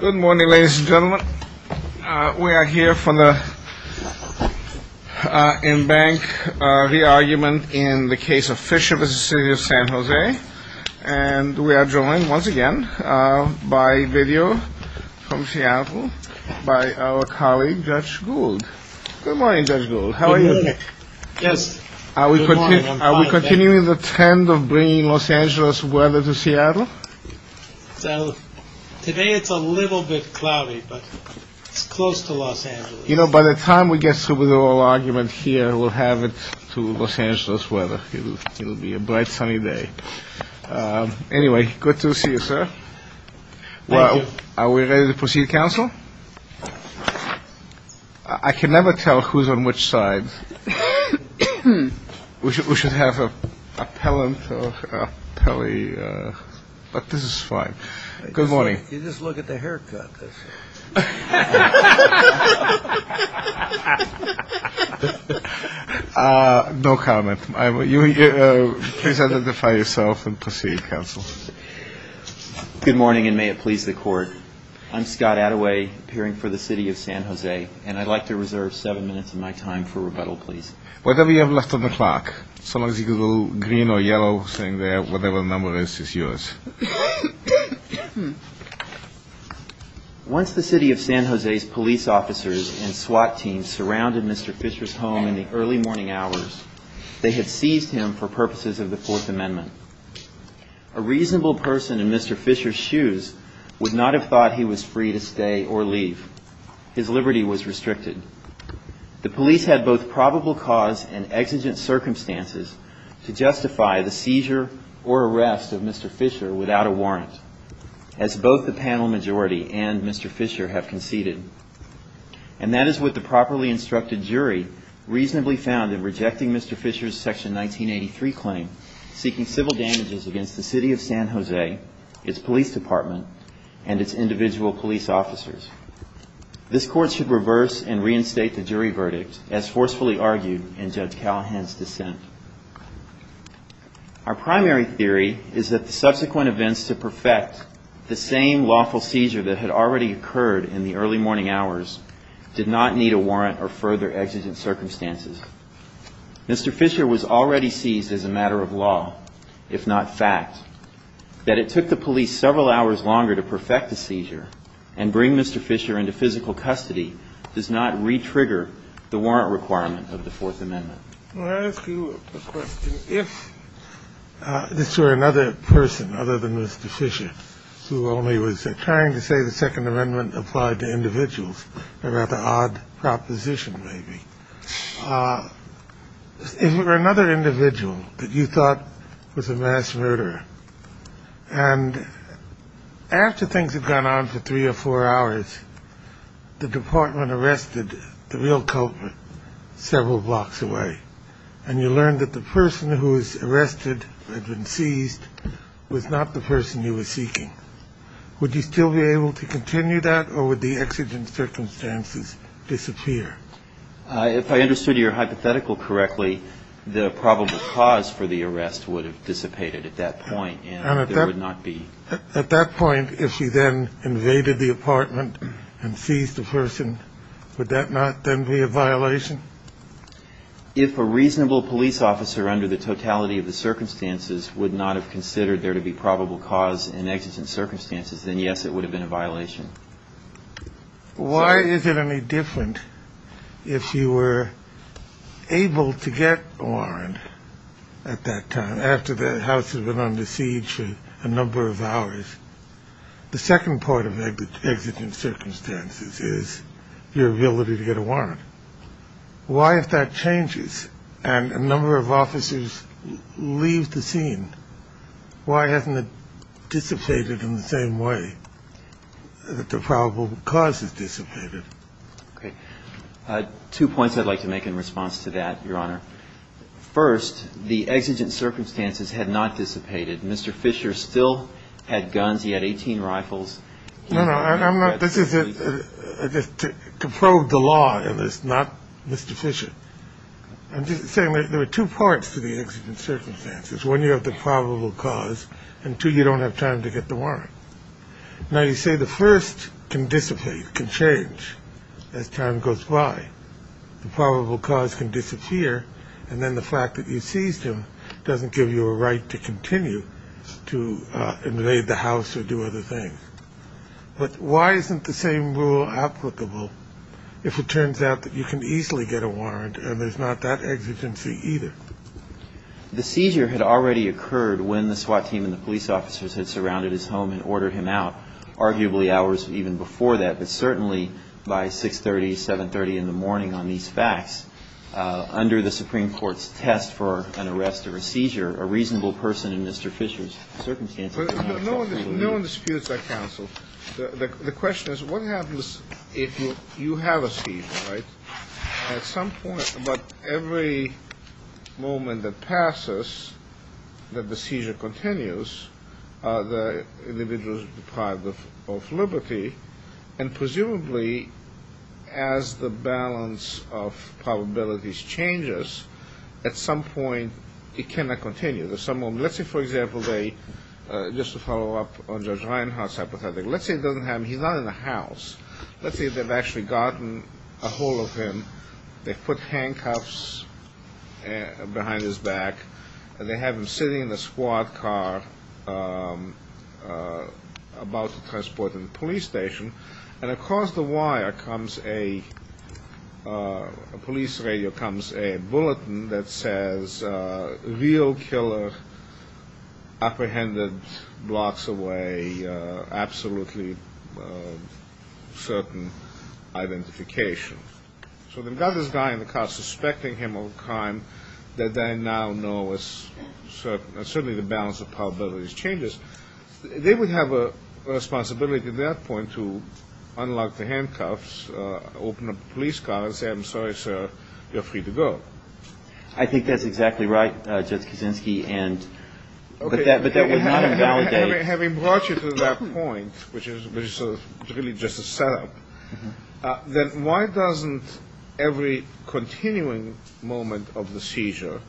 Good morning, ladies and gentlemen. We are here for the in-bank re-argument in the case of Fisher v. City of San Jose. And we are joined once again by video from Seattle by our colleague, Judge Gould. Good morning, Judge Gould. How are you? Good morning. Yes. Good morning. I'm fine. Are you continuing the trend of bringing Los Angeles weather to Seattle? Today it's a little bit cloudy, but it's close to Los Angeles. You know, by the time we get through with the re-argument here, we'll have it to Los Angeles weather. It'll be a bright, sunny day. Anyway, good to see you, sir. Thank you. Well, are we ready to proceed, counsel? I can never tell who's on which side. We should have an appellant or an appellee, but this is fine. Good morning. You just look at the haircut. No comment. Please identify yourself and proceed, counsel. Good morning, and may it please the Court. I'm Scott Attaway, appearing for the City of San Jose, and I'd like to reserve seven minutes of my time for rebuttal, please. Whatever you have left on the clock, so long as you can go green or yellow, saying whatever number is yours. Once the City of San Jose's police officers and SWAT teams surrounded Mr. Fisher's home in the early morning hours, they had seized him for purposes of the Fourth Amendment. A reasonable person in Mr. Fisher's shoes would not have thought he was free to stay or leave. His liberty was restricted. The police had both probable cause and exigent circumstances to justify the seizure or arrest of Mr. Fisher without a warrant, as both the panel majority and Mr. Fisher have conceded. And that is what the properly instructed jury reasonably found in rejecting Mr. Fisher's Section 1983 claim, seeking civil damages against the City of San Jose, its police department, and its individual police officers. This Court should reverse and reinstate the jury verdict, as forcefully argued in Judge Callahan's dissent. Our primary theory is that the subsequent events to perfect the same lawful seizure that had already occurred in the early morning hours did not need a warrant or further exigent circumstances. Mr. Fisher was already seized as a matter of law, if not fact. That it took the police several hours longer to perfect the seizure and bring Mr. Fisher into physical custody does not re-trigger the warrant requirement of the Fourth Amendment. I'll ask you a question. If this were another person, other than Mr. Fisher, who only was trying to say the Second Amendment applied to individuals, a rather odd proposition, maybe, if it were another individual that you thought was a mass murderer, and after things had gone on for three or four hours, the department arrested the real culprit several blocks away, and you learned that the person who was arrested had been seized was not the real culprit, would you still be able to continue that, or would the exigent circumstances disappear? If I understood your hypothetical correctly, the probable cause for the arrest would have dissipated at that point, and there would not be... And at that point, if she then invaded the apartment and seized the person, would that not then be a violation? If a reasonable police officer under the totality of the circumstances would not have intervened, yes, it would have been a violation. Why is it any different if you were able to get a warrant at that time, after the house had been under siege for a number of hours? The second part of exigent circumstances is your ability to get a warrant. Why, if that changes and a number of officers leave the scene, why hasn't it dissipated in the same way that the probable cause has dissipated? Okay. Two points I'd like to make in response to that, Your Honor. First, the exigent circumstances had not dissipated. Mr. Fisher still had guns. He had 18 rifles. No, no, I'm not... This is to probe the law, and it's not Mr. Fisher. I'm just saying there are two parts to the exigent circumstances. One, you have the probable cause, and two, you don't have time to get the warrant. Now, you say the first can dissipate, can change as time goes by. The probable cause can disappear, and then the fact that you seized him doesn't give you a right to continue to invade the house or do other things. But why isn't the same rule applicable if it turns out that you can easily get a warrant and there's not that exigency either? The seizure had already occurred when the SWAT team and the police officers had surrounded his home and ordered him out, arguably hours even before that, but certainly by 6.30, 7.30 in the morning on these facts, under the Supreme Court's test for an arrest or a seizure, a reasonable person in Mr. Fisher's circumstances... No one disputes that counsel. The question is what happens if you have a seizure, right? At some point, about every moment that passes, that the seizure continues, the individual is deprived of liberty, and presumably as the balance of probabilities changes, at some point it cannot continue. Let's say, for example, just to follow up on Judge Reinhart's hypothetical, let's say he's not in the house. Let's say they've actually gotten a hold of him, they've put handcuffs behind his back, they have him sitting in the SWAT car about to transport him to the police station, and across the wire comes a police radio, comes a bulletin that says, real killer apprehended blocks away, absolutely certain identification. So they've got this guy in the car suspecting him of a crime that they now know is certainly the balance of probabilities changes. They would have a responsibility at that point to I think that's exactly right, Judge Kuczynski, but that would not invalidate... Having brought you to that point, which is really just a setup, then why doesn't every continuing moment of the seizure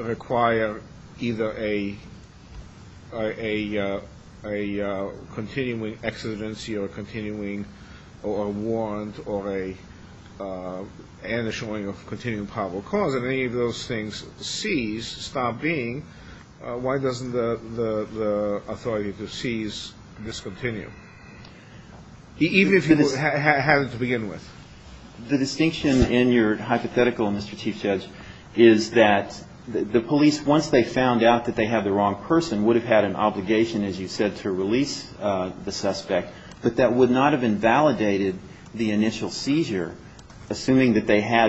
require either a continuing exigency or a warrant or an issuing of continuing probable cause? If any of those things cease, stop being, why doesn't the authority to seize discontinue? Even if you had it to begin with. The distinction in your hypothetical, Mr. Chief Judge, is that the police, once they found out that they had the wrong person, would have had an obligation, as you said, to release the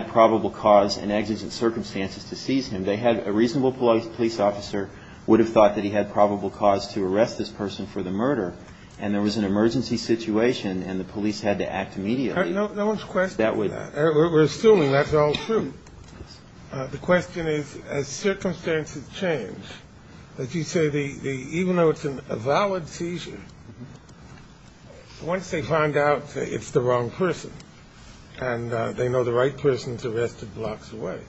probable cause and exigent circumstances to seize him. They had a reasonable police officer would have thought that he had probable cause to arrest this person for the murder, and there was an emergency situation, and the police had to act immediately. No one's questioning that. We're assuming that's all true. The question is, as circumstances change, as you say, even though it's a valid seizure, once they find out it's the wrong person, and they know the right person's arrested blocks away,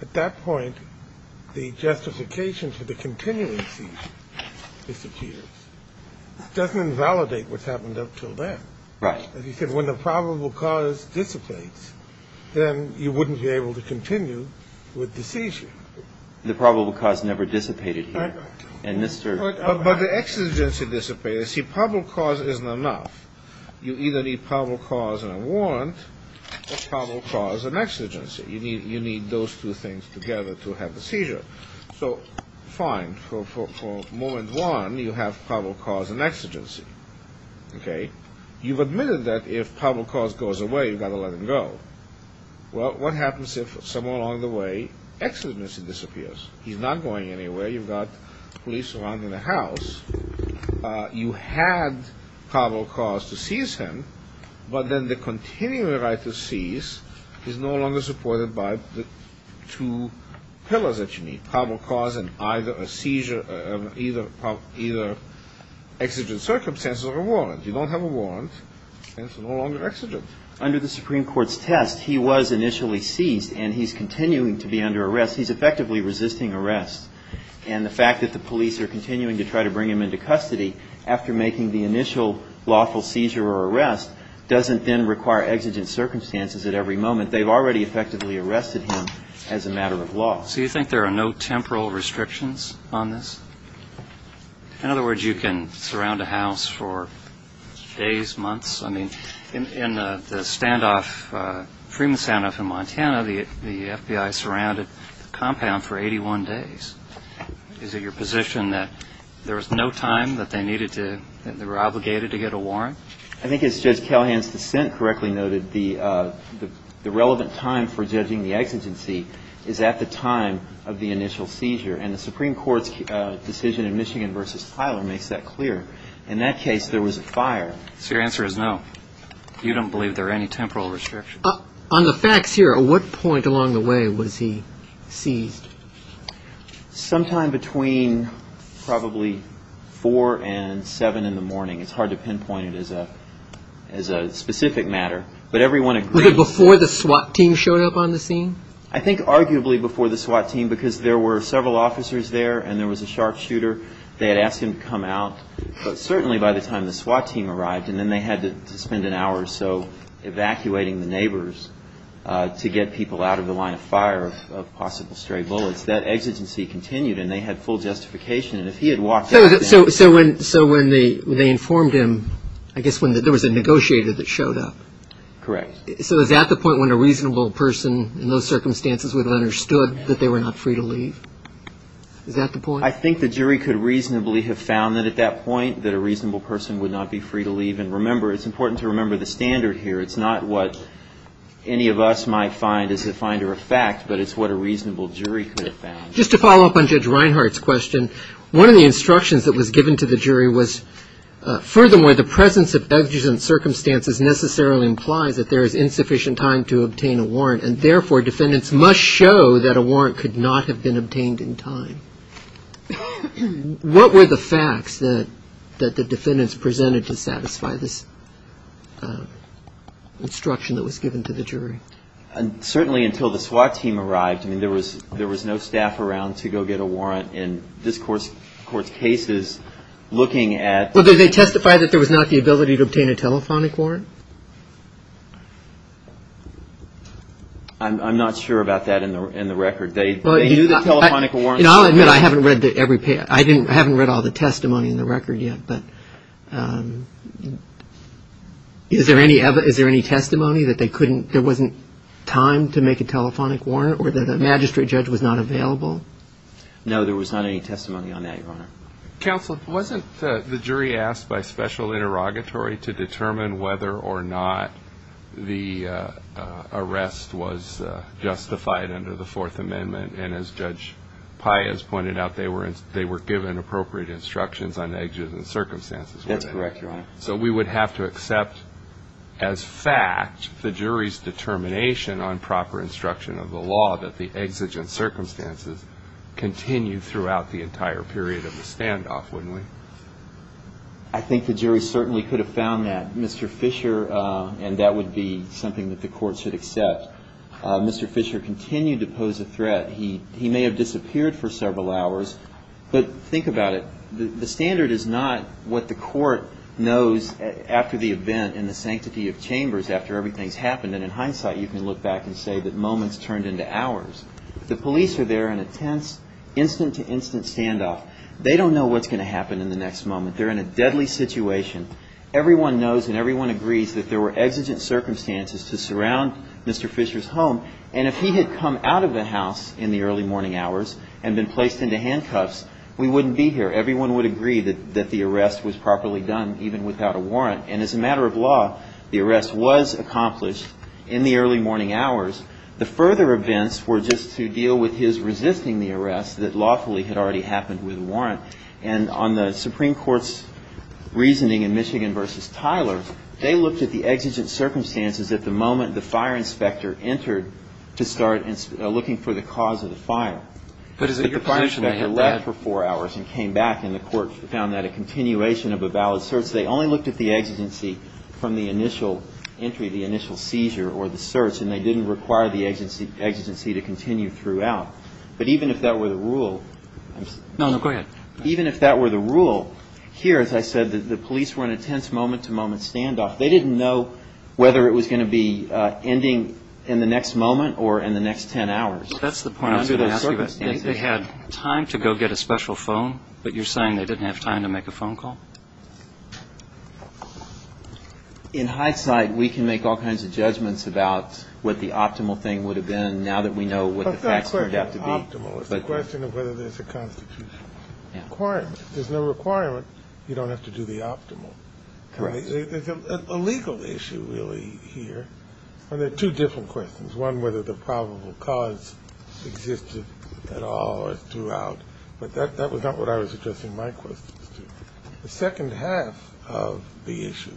at that point, the justification for the continuing seizure disappears. It doesn't invalidate what's happened up until then. Right. As you said, when the probable cause dissipates, then you wouldn't be able to continue with the seizure. The probable cause never dissipated here. Right. But the exigency dissipated. See, probable cause isn't enough. You either need probable cause and a warrant, or probable cause and exigency. You need those two things together to have the seizure. So, fine, for moment one, you have probable cause and exigency. Okay? You've admitted that if probable cause goes away, you've got to let him go. Well, what happens if somewhere along the way, exigency disappears? He's not going anywhere. You've got police surrounding the house. You had probable cause to seize him, but then the continuing right to seize is no longer supported by the two pillars that you need, probable cause and either a seizure, either exigent circumstances or a warrant. You don't have a warrant, and it's no longer exigent. Under the Supreme Court's test, he was initially seized, and he's continuing to be under arrest. He's effectively resisting arrest. And the fact that the police are continuing to try to bring him into custody after making the initial lawful seizure or arrest doesn't then require exigent circumstances at every moment. They've already effectively arrested him as a matter of law. So you think there are no temporal restrictions on this? In other words, you can surround a house for days, months? I mean, in the standoff, Fremont standoff in Montana, the FBI surrounded the compound for 81 days. Is it your position that there was no time that they needed to – that they were obligated to get a warrant? I think as Judge Callahan's dissent correctly noted, the relevant time for judging the exigency is at the time of the initial seizure. And the Supreme Court's decision in Michigan v. Tyler makes that clear. In that case, there was a fire. So your answer is no. You don't believe there are any temporal restrictions? On the facts here, at what point along the way was he seized? Sometime between probably 4 and 7 in the morning. It's hard to pinpoint it as a specific matter. But everyone agrees – Was it before the SWAT team showed up on the scene? I think arguably before the SWAT team because there were several officers there and there was a sharpshooter. They had asked him to come out. But certainly by the time the SWAT team arrived and then they had to spend an hour or so evacuating the neighbors to get people out of the line of fire of possible stray bullets, that exigency continued and they had full justification. And if he had walked out then – So when they informed him, I guess there was a negotiator that showed up. Correct. So is that the point when a reasonable person in those circumstances would have understood that they were not free to leave? Is that the point? I think the jury could reasonably have found that at that point, that a reasonable person would not be free to leave. And remember – it's important to remember the standard here. It's not what any of us might find as a finder of fact, but it's what a reasonable jury could have found. Just to follow up on Judge Reinhart's question, one of the instructions that was given to the jury was, furthermore, the presence of evidence in circumstances necessarily implies that there is insufficient time to obtain a warrant and therefore defendants must show that a warrant could not have been obtained in time. What were the facts that the defendants presented to satisfy this instruction that was given to the jury? Certainly until the SWAT team arrived, I mean, there was no staff around to go get a warrant. And this Court's case is looking at – Well, did they testify that there was not the ability to obtain a telephonic warrant? I'm not sure about that in the record. They knew the telephonic warrant was available. I haven't read all the testimony in the record yet, but is there any testimony that there wasn't time to make a telephonic warrant or that a magistrate judge was not available? No, there was not any testimony on that, Your Honor. Counsel, wasn't the jury asked by special interrogatory to determine whether or not the arrest was justified under the Fourth Amendment? And as Judge Paez pointed out, they were given appropriate instructions on the exigent circumstances. That's correct, Your Honor. So we would have to accept as fact the jury's determination on proper instruction of the law that the exigent circumstances continued throughout the entire period of the standoff, wouldn't we? I think the jury certainly could have found that, Mr. Fisher, and that would be something that the Court should accept. Mr. Fisher continued to pose a threat. He may have disappeared for several hours, but think about it. The standard is not what the Court knows after the event in the sanctity of chambers after everything has happened. And in hindsight, you can look back and say that moments turned into hours. The police are there in a tense, instant-to-instant standoff. They don't know what's going to happen in the next moment. They're in a deadly situation. Everyone knows and everyone agrees that there were exigent circumstances to surround Mr. Fisher's home. And if he had come out of the house in the early morning hours and been placed into handcuffs, we wouldn't be here. Everyone would agree that the arrest was properly done, even without a warrant. And as a matter of law, the arrest was accomplished in the early morning hours. The further events were just to deal with his resisting the arrest that lawfully had already happened with a warrant. And on the Supreme Court's reasoning in Michigan v. Tyler, they looked at the exigent circumstances at the moment the fire inspector entered to start looking for the cause of the fire. But is it your position that they had? But the fire inspector left for four hours and came back, and the Court found that a continuation of a valid search. They only looked at the exigency from the initial entry, the initial seizure or the search, and they didn't require the exigency to continue throughout. But even if that were the rule, I'm sorry. No, no, go ahead. Even if that were the rule, here, as I said, the police were in a tense moment-to- moment standoff. They didn't know whether it was going to be ending in the next moment or in the next ten hours. That's the point I was going to ask you about. They had time to go get a special phone, but you're saying they didn't have time to make a phone call? In hindsight, we can make all kinds of judgments about what the optimal thing would have been now that we know what the facts turned out to be. But that's not optimal. It's a question of whether there's a constitutional requirement. If there's no requirement, you don't have to do the optimal. Right. There's a legal issue, really, here. And there are two different questions. One, whether the probable cause existed at all or throughout. But that was not what I was addressing my questions to. The second half of the issue,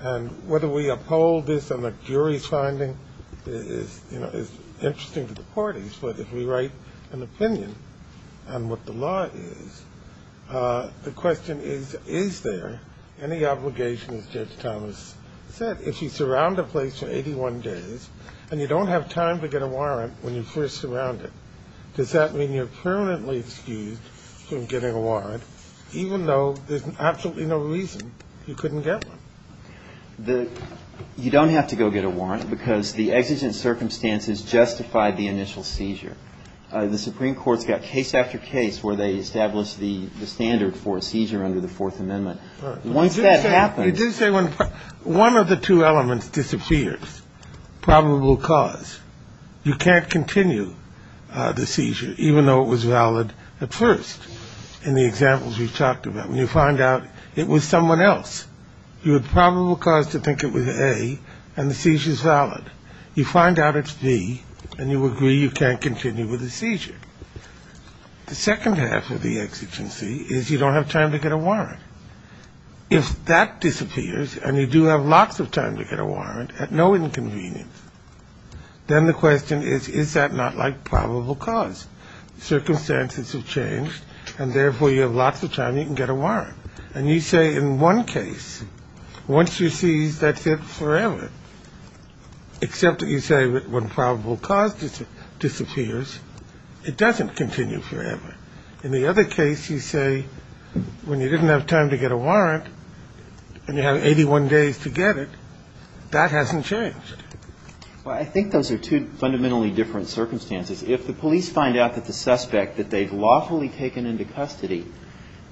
and whether we uphold this on the jury's finding, is interesting to the parties. But if we write an opinion on what the law is, the question is, is there any obligation, as Judge Thomas said, if you surround a place for 81 days and you don't have time to get a warrant when you first surround it, does that mean you're permanently excused from getting a warrant, even though there's absolutely no reason you couldn't get one? You don't have to go get a warrant because the exigent circumstances justified the initial seizure. The Supreme Court's got case after case where they established the standard for a seizure under the Fourth Amendment. Right. Once that happens. You did say one of the two elements disappears, probable cause. You can't continue the seizure, even though it was valid at first in the examples we've talked about, when you find out it was someone else. You have probable cause to think it was A, and the seizure's valid. You find out it's B, and you agree you can't continue with the seizure. The second half of the exigency is you don't have time to get a warrant. If that disappears and you do have lots of time to get a warrant at no inconvenience, then the question is, is that not like probable cause? Circumstances have changed, and therefore you have lots of time you can get a warrant. And you say in one case, once you see that's it forever, except that you say when probable cause disappears, it doesn't continue forever. In the other case, you say when you didn't have time to get a warrant and you have 81 days to get it, that hasn't changed. Well, I think those are two fundamentally different circumstances. If the police find out that the suspect that they've lawfully taken into custody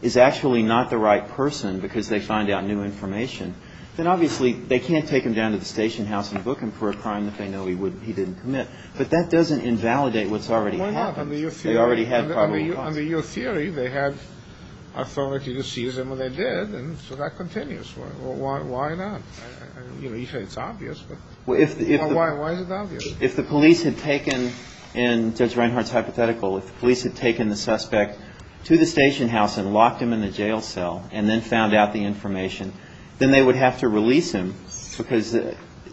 is actually not the right person because they find out new information, then obviously they can't take him down to the station house and book him for a crime that they know he didn't commit. But that doesn't invalidate what's already happened. Why not? Under your theory, they had authority to seize him, and they did, and so that continues. Why not? You say it's obvious, but why is it obvious? If the police had taken, and Judge Reinhardt's hypothetical, if the police had taken the suspect to the station house and locked him in the jail cell and then found out the information, then they would have to release him because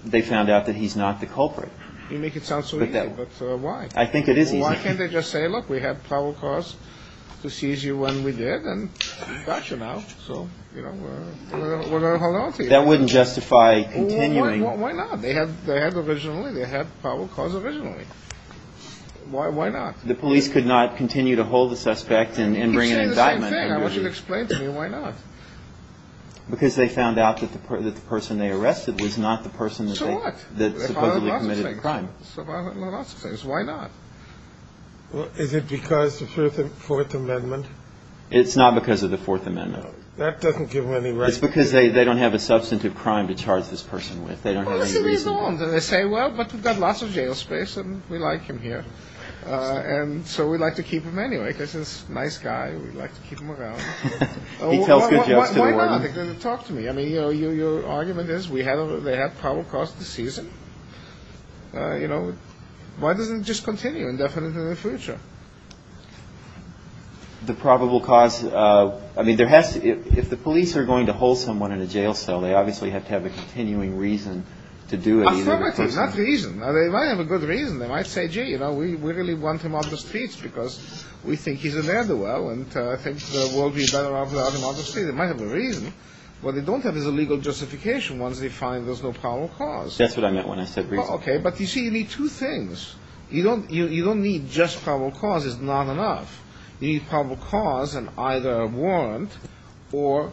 they found out that he's not the culprit. You make it sound so easy, but why? I think it is easy. Why can't they just say, look, we had probable cause to seize you when we did, and we've got you now, so, you know, we're going to hold on to you. That wouldn't justify continuing. Why not? They had originally. They had probable cause originally. Why not? The police could not continue to hold the suspect and bring an indictment. You say the same thing. I want you to explain to me why not. Because they found out that the person they arrested was not the person that supposedly committed the crime. So why not? Is it because of the Fourth Amendment? It's not because of the Fourth Amendment. That doesn't give them any reason. It's because they don't have a substantive crime to charge this person with. They don't have any reason. They say, well, but we've got lots of jail space and we like him here, and so we'd like to keep him anyway because he's a nice guy and we'd like to keep him around. He tells good jokes to the warden. Why not? Talk to me. I mean, you know, your argument is they had probable cause to seize him. You know, why doesn't it just continue indefinitely in the future? The probable cause, I mean, if the police are going to hold someone in a jail cell, they obviously have to have a continuing reason to do it. Not reason. They might have a good reason. They might say, gee, you know, we really want him out in the streets because we think he's a ne'er-do-well and I think the world would be better off without him out in the streets. They might have a reason. What they don't have is a legal justification once they find there's no probable cause. That's what I meant when I said reason. Okay, but you see, you need two things. You don't need just probable cause. It's not enough. You need probable cause and either a warrant or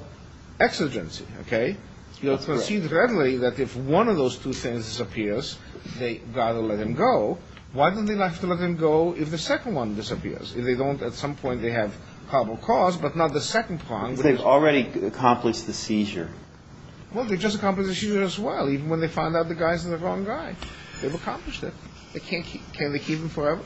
exigency. Okay? You'll proceed readily that if one of those two things disappears, they've got to let him go. Why do they have to let him go if the second one disappears? If they don't, at some point they have probable cause but not the second one. But they've already accomplished the seizure. Well, they've just accomplished the seizure as well, even when they find out the guy's the wrong guy. They've accomplished it. They can't keep him. Can they keep him forever?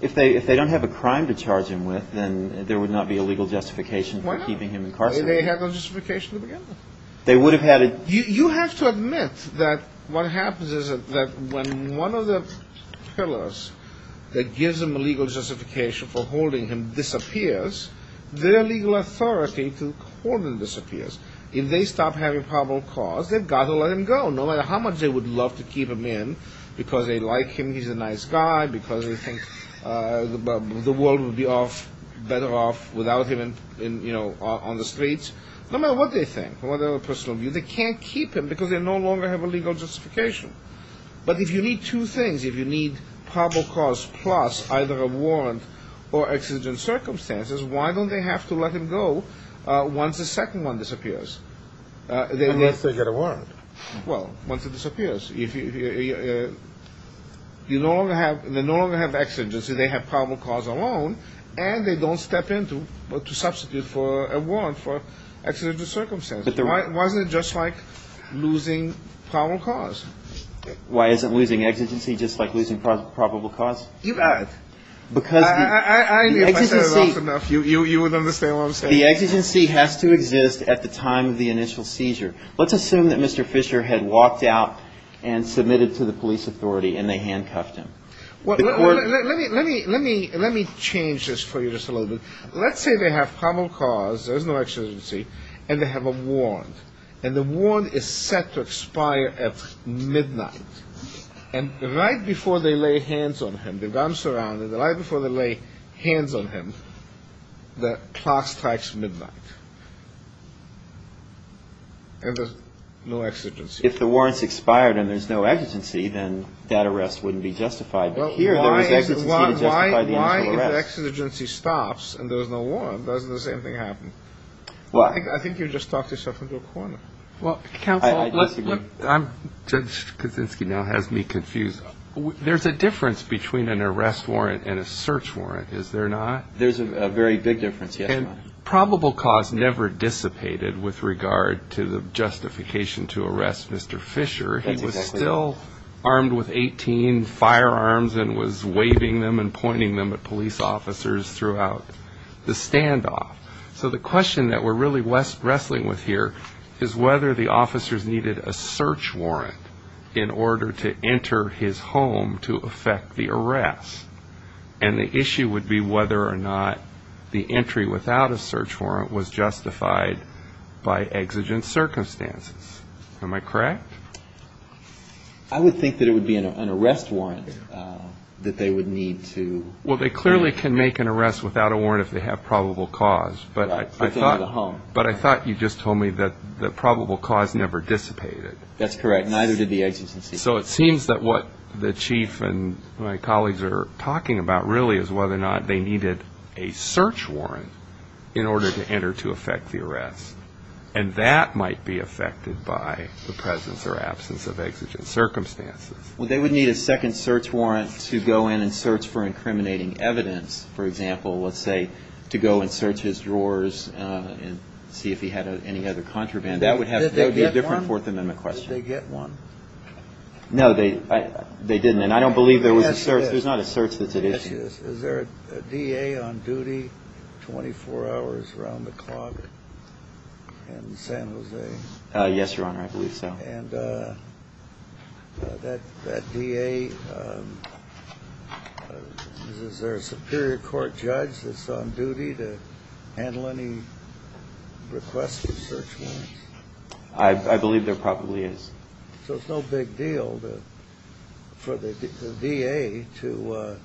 If they don't have a crime to charge him with, then there would not be a legal justification for keeping him incarcerated. Why not? They have no justification to begin with. You have to admit that what happens is that when one of the pillars that gives them a legal justification for holding him disappears, their legal authority to hold him disappears. If they stop having probable cause, they've got to let him go, no matter how much they would love to keep him in because they like him, he's a nice guy, because they think the world would be better off without him on the streets. No matter what they think, no matter their personal view, they can't keep him because they no longer have a legal justification. But if you need two things, if you need probable cause plus either a warrant or exigent circumstances, why don't they have to let him go once the second one disappears? Unless they get a warrant. Well, once it disappears. If you no longer have exigency, they have probable cause alone, and they don't step in to substitute for a warrant for exigent circumstances. Why isn't it just like losing probable cause? Why isn't losing exigency just like losing probable cause? You've got it. Because the exigency... If I said it often enough, you would understand what I'm saying. The exigency has to exist at the time of the initial seizure. Let's assume that Mr. Fisher had walked out and submitted to the police authority and they handcuffed him. Let me change this for you just a little bit. Let's say they have probable cause, there's no exigency, and they have a warrant. And the warrant is set to expire at midnight. And right before they lay hands on him, they've gotten surrounded, and right before they lay hands on him, the clock strikes midnight. And there's no exigency. If the warrant's expired and there's no exigency, then that arrest wouldn't be justified. But here there is exigency to justify the initial arrest. Why if the exigency stops and there's no warrant, doesn't the same thing happen? I think you just talked yourself into a corner. Well, counsel, Judge Kaczynski now has me confused. There's a difference between an arrest warrant and a search warrant, is there not? There's a very big difference, yes. And probable cause never dissipated with regard to the justification to arrest Mr. Fisher. He was still armed with 18 firearms and was waving them and pointing them at police officers throughout the standoff. So the question that we're really wrestling with here is whether the officers needed a search warrant in order to enter his home to effect the arrest. And the issue would be whether or not the entry without a search warrant was justified by exigent circumstances. Am I correct? I would think that it would be an arrest warrant that they would need to make. Well, they clearly can make an arrest without a warrant if they have probable cause. But I thought you just told me that probable cause never dissipated. That's correct. Neither did the exigency. So it seems that what the chief and my colleagues are talking about really is whether or not they needed a search warrant in order to enter to effect the arrest. And that might be effected by the presence or absence of exigent circumstances. Well, they would need a second search warrant to go in and search for incriminating evidence. For example, let's say to go and search his drawers and see if he had any other contraband. That would be a different Fourth Amendment question. Did they get one? No, they didn't. And I don't believe there was a search. There's not a search that's at issue. Is there a DA on duty 24 hours around the clock in San Jose? Yes, Your Honor. I believe so. And that DA, is there a superior court judge that's on duty to handle any requests for search warrants? I believe there probably is. So it's no big deal for the DA to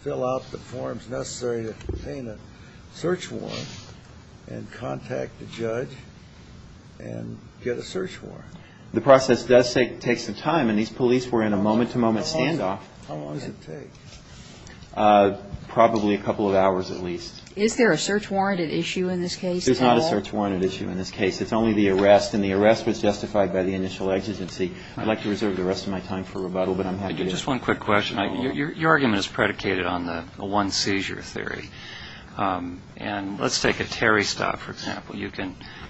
fill out the forms necessary to obtain a search warrant and contact the judge and get a search warrant. The process does take some time, and these police were in a moment-to-moment standoff. How long does it take? Probably a couple of hours at least. Is there a search warrant at issue in this case at all? There's not a search warrant at issue in this case. It's only the arrest, and the arrest was justified by the initial exigency. I'd like to reserve the rest of my time for rebuttal, but I'm happy to... Just one quick question. Your argument is predicated on the one seizure theory. And let's take a Terry stop, for example. You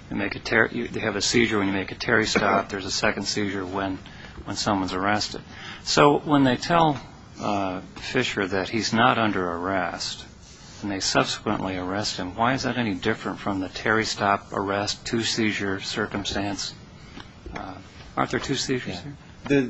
have a seizure when you make a Terry stop. There's a second seizure when someone's arrested. So when they tell Fisher that he's not under arrest and they subsequently arrest him, why is that any different from the Terry stop, arrest, two seizure circumstance? Aren't there two seizures here? The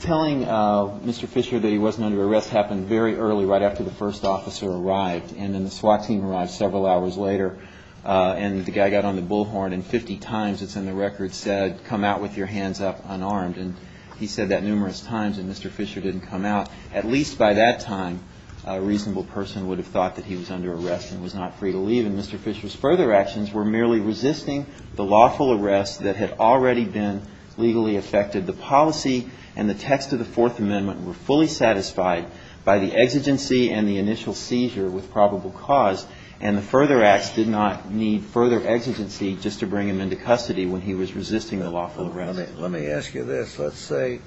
telling of Mr. Fisher that he wasn't under arrest happened very early, right after the first officer arrived. And then the SWAT team arrived several hours later, and the guy got on the bullhorn, and 50 times it's in the record said, come out with your hands up unarmed. And he said that numerous times, and Mr. Fisher didn't come out. At least by that time, a reasonable person would have thought that he was under arrest and was not free to leave. And Mr. Fisher's further actions were merely resisting the lawful arrest that had already been legally affected. The policy and the text of the Fourth Amendment were fully satisfied by the exigency and the initial seizure with probable cause. And the further acts did not need further exigency just to bring him into custody when he was resisting the lawful arrest. Let me ask you this. Let's say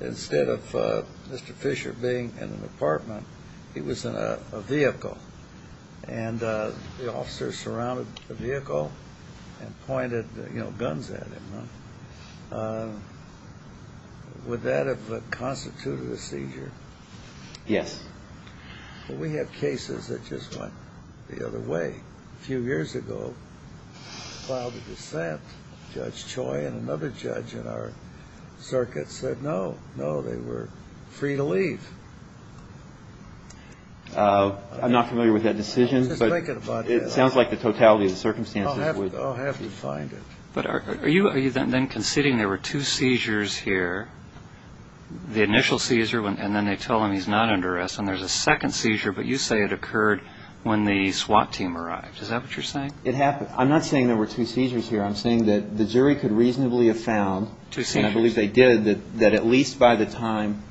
instead of Mr. Fisher being in an apartment, he was in a vehicle, and the officer surrounded the vehicle and pointed guns at him. Would that have constituted a seizure? Yes. Well, we have cases that just went the other way. A few years ago, we filed a dissent. Judge Choi and another judge in our circuit said no, no, they were free to leave. I'm not familiar with that decision. I was just thinking about that. It sounds like the totality of the circumstances would. I'll have to find it. But are you then conceding there were two seizures here, the initial seizure, and then they tell him he's not under arrest and there's a second seizure, but you say it occurred when the SWAT team arrived. Is that what you're saying? It happened. I'm not saying there were two seizures here. I'm saying that the jury could reasonably have found, and I believe they did, that at least by the time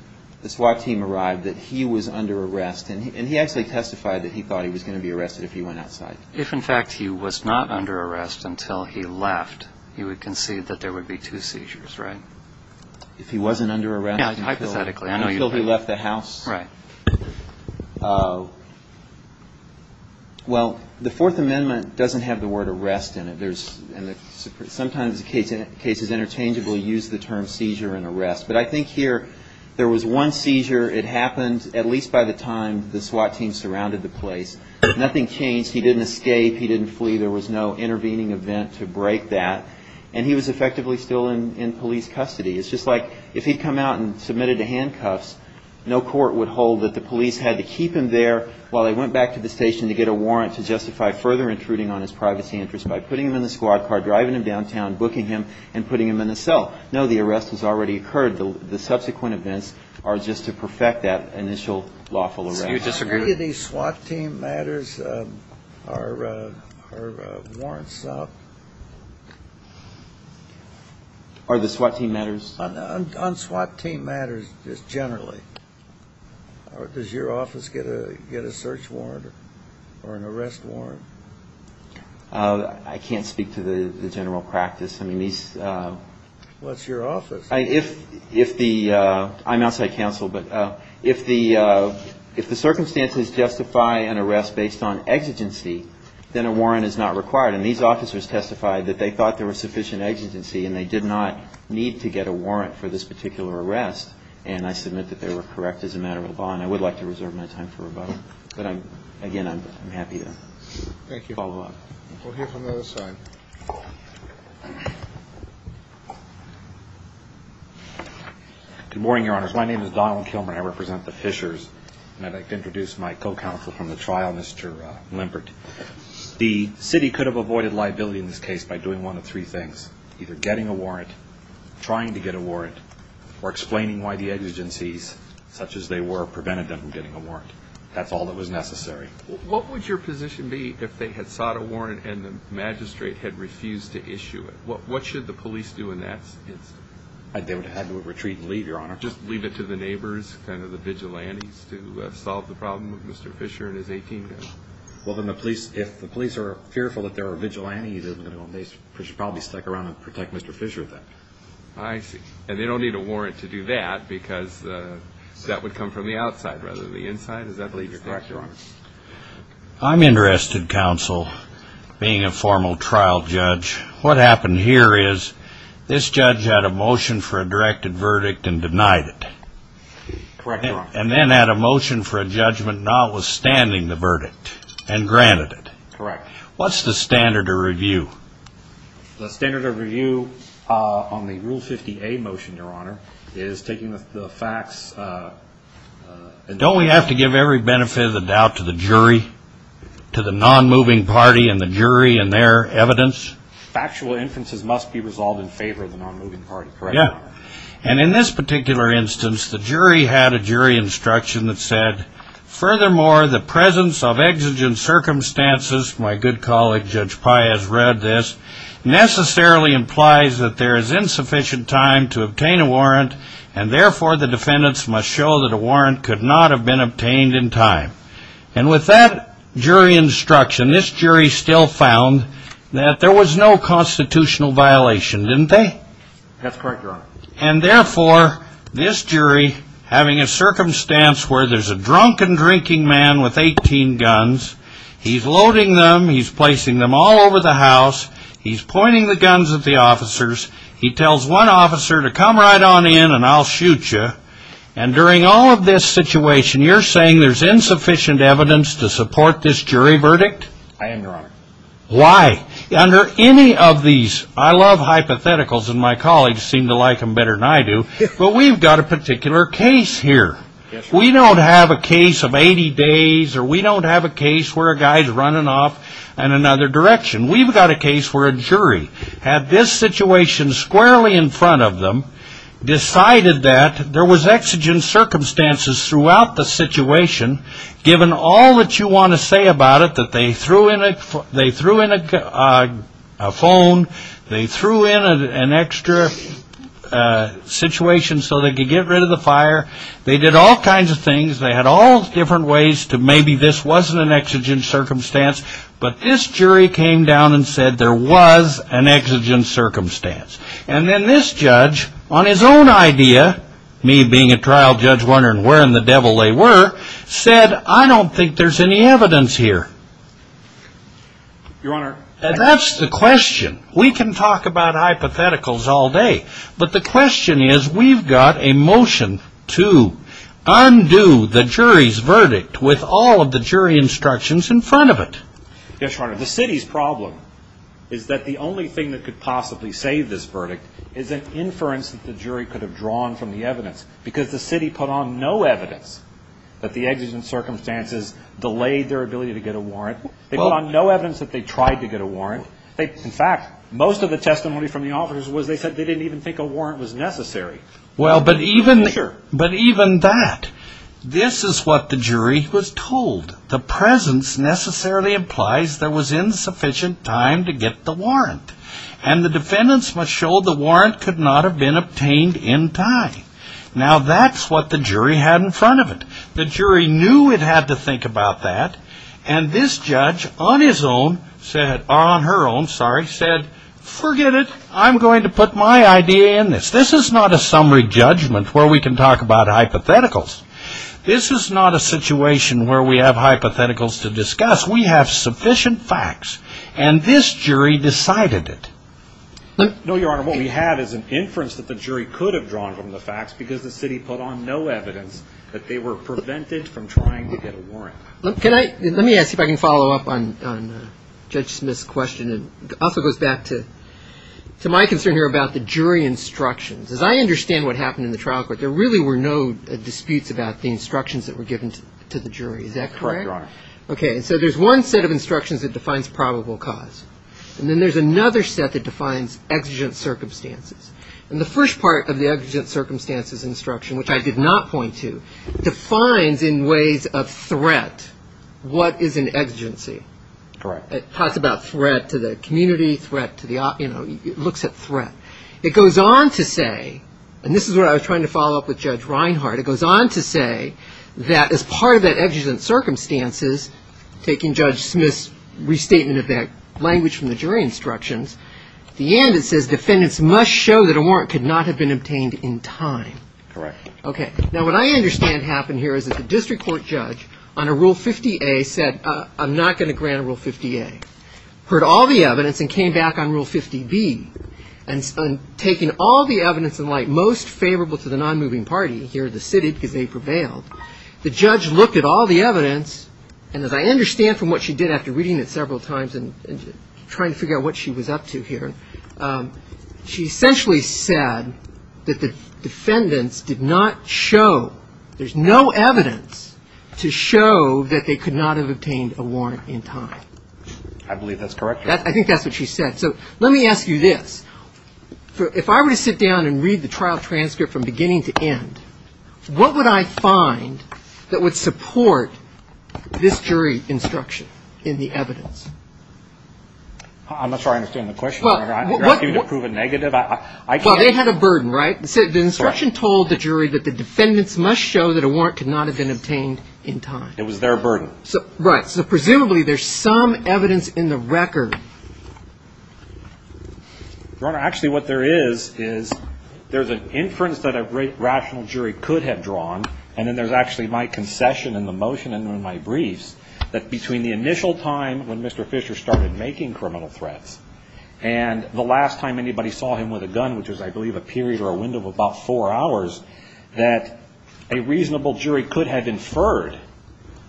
the SWAT team arrived that he was under arrest. And he actually testified that he thought he was going to be arrested if he went outside. If, in fact, he was not under arrest until he left, you would concede that there would be two seizures, right? If he wasn't under arrest. Yeah, hypothetically. Until he left the house. Right. Well, the Fourth Amendment doesn't have the word arrest in it. Sometimes cases interchangeably use the term seizure and arrest. But I think here there was one seizure. It happened at least by the time the SWAT team surrounded the place. Nothing changed. He didn't escape. He didn't flee. There was no intervening event to break that. And he was effectively still in police custody. It's just like if he'd come out and submitted to handcuffs, no court would hold that the police had to keep him there while they went back to the station to get a warrant to justify further intruding on his privacy interest by putting him in the squad car, driving him downtown, booking him, and putting him in a cell. No, the arrest has already occurred. The subsequent events are just to perfect that initial lawful arrest. So you disagree? Do any of these SWAT team matters, are warrants up? Are the SWAT team matters? On SWAT team matters just generally. Does your office get a search warrant or an arrest warrant? I can't speak to the general practice. I mean, these. What's your office? I'm outside counsel. But if the circumstances justify an arrest based on exigency, then a warrant is not required. And these officers testified that they thought there was sufficient exigency and they did not need to get a warrant for this particular arrest. And I submit that they were correct as a matter of law. And I would like to reserve my time for rebuttal. Thank you. We'll hear from the other side. Good morning, Your Honors. My name is Donald Kilmer. I represent the Fishers. And I'd like to introduce my co-counsel from the trial, Mr. Limpert. The city could have avoided liability in this case by doing one of three things, either getting a warrant, trying to get a warrant, or explaining why the exigencies, such as they were, prevented them from getting a warrant. That's all that was necessary. What would your position be if they had sought a warrant and the magistrate had refused to issue it? What should the police do in that instance? They would have had to retreat and leave, Your Honor. Just leave it to the neighbors, kind of the vigilantes, to solve the problem with Mr. Fisher and his 18-year-old? Well, if the police are fearful that there are vigilantes, they should probably stick around and protect Mr. Fisher with that. I see. And they don't need a warrant to do that because that would come from the outside rather than the inside? Correct, Your Honor. I'm interested, counsel, being a formal trial judge, what happened here is this judge had a motion for a directed verdict and denied it. Correct, Your Honor. And then had a motion for a judgment notwithstanding the verdict and granted it. Correct. What's the standard of review? The standard of review on the Rule 50A motion, Your Honor, is taking the facts. Don't we have to give every benefit of the doubt to the jury, to the non-moving party and the jury and their evidence? Factual inferences must be resolved in favor of the non-moving party, correct? Yeah. And in this particular instance, the jury had a jury instruction that said, furthermore, the presence of exigent circumstances, my good colleague Judge Pai has read this, necessarily implies that there is insufficient time to obtain a warrant and, therefore, the defendants must show that a warrant could not have been obtained in time. And with that jury instruction, this jury still found that there was no constitutional violation, didn't they? That's correct, Your Honor. And, therefore, this jury, having a circumstance where there's a drunken drinking man with 18 guns, he's loading them, he's placing them all over the house, he's pointing the guns at the officers, he tells one officer to come right on in and I'll shoot you, and during all of this situation, you're saying there's insufficient evidence to support this jury verdict? I am, Your Honor. Why? Under any of these, I love hypotheticals and my colleagues seem to like them better than I do, but we've got a particular case here. We don't have a case of 80 days or we don't have a case where a guy's running off in another direction. We've got a case where a jury had this situation squarely in front of them, decided that there was exigent circumstances throughout the situation, given all that you want to say about it, that they threw in a phone, they threw in an extra situation so they could get rid of the fire, they did all kinds of things, they had all different ways to maybe this wasn't an exigent circumstance, but this jury came down and said there was an exigent circumstance. And then this judge, on his own idea, me being a trial judge wondering where in the devil they were, said I don't think there's any evidence here. Your Honor. That's the question. We can talk about hypotheticals all day, but the question is we've got a motion to undo the jury's verdict with all of the jury instructions in front of it. Yes, Your Honor. The city's problem is that the only thing that could possibly save this verdict is an inference that the jury could have drawn from the evidence, because the city put on no evidence that the exigent circumstances delayed their ability to get a warrant. They put on no evidence that they tried to get a warrant. In fact, most of the testimony from the officers was they said they didn't even think a warrant was necessary. Well, but even that, this is what the jury was told. The presence necessarily implies there was insufficient time to get the warrant, and the defendants must show the warrant could not have been obtained in time. Now, that's what the jury had in front of it. The jury knew it had to think about that, and this judge on his own said or on her own, sorry, said forget it. I'm going to put my idea in this. This is not a summary judgment where we can talk about hypotheticals. This is not a situation where we have hypotheticals to discuss. We have sufficient facts, and this jury decided it. No, Your Honor. What we had is an inference that the jury could have drawn from the facts because the city put on no evidence that they were prevented from trying to get a warrant. Let me ask you if I can follow up on Judge Smith's question. It also goes back to my concern here about the jury instructions. As I understand what happened in the trial court, there really were no disputes about the instructions that were given to the jury. Is that correct? Correct, Your Honor. Okay, so there's one set of instructions that defines probable cause, and then there's another set that defines exigent circumstances, and the first part of the exigent circumstances instruction, which I did not point to, defines in ways of threat what is an exigency. Correct. It talks about threat to the community, threat to the, you know, it looks at threat. It goes on to say, and this is what I was trying to follow up with Judge Reinhardt, it goes on to say that as part of that exigent circumstances, taking Judge Smith's restatement of that language from the jury instructions, at the end it says defendants must show that a warrant could not have been obtained in time. Correct. Okay. Now, what I understand happened here is that the district court judge on a Rule 50A said, I'm not going to grant a Rule 50A, heard all the evidence and came back on Rule 50B, and taking all the evidence in light most favorable to the nonmoving party, here the city because they prevailed, the judge looked at all the evidence, and as I understand from what she did after reading it several times and trying to figure out what she was up to here, she essentially said that the defendants did not show, there's no evidence to show that they could not have obtained a warrant in time. I believe that's correct. I think that's what she said. So let me ask you this. If I were to sit down and read the trial transcript from beginning to end, what would I find that would support this jury instruction in the evidence? I'm not sure I understand the question, Your Honor. You're asking me to prove a negative? Well, they had a burden, right? The instruction told the jury that the defendants must show that a warrant could not have been obtained in time. It was their burden. Right. So presumably there's some evidence in the record. Your Honor, actually what there is, is there's an inference that a rational jury could have drawn, and then there's actually my concession in the motion and in my briefs, that between the initial time when Mr. Fisher started making criminal threats and the last time anybody saw him with a gun, which was I believe a period or a window of about four hours, that a reasonable jury could have inferred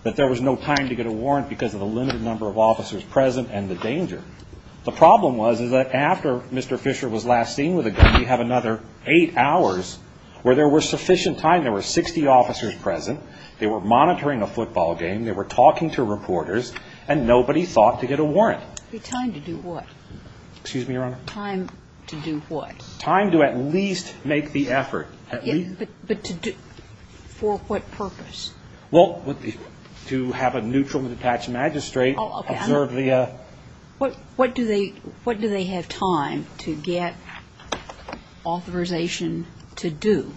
that there was no time to get a warrant because of the limited number of officers present and the danger. The problem was is that after Mr. Fisher was last seen with a gun, you have another eight hours where there was sufficient time. There were 60 officers present. They were monitoring a football game. They were talking to reporters, and nobody thought to get a warrant. Time to do what? Excuse me, Your Honor? Time to do what? Time to at least make the effort. But to do for what purpose? Well, to have a neutral and detached magistrate observe the ---- What do they have time to get authorization to do?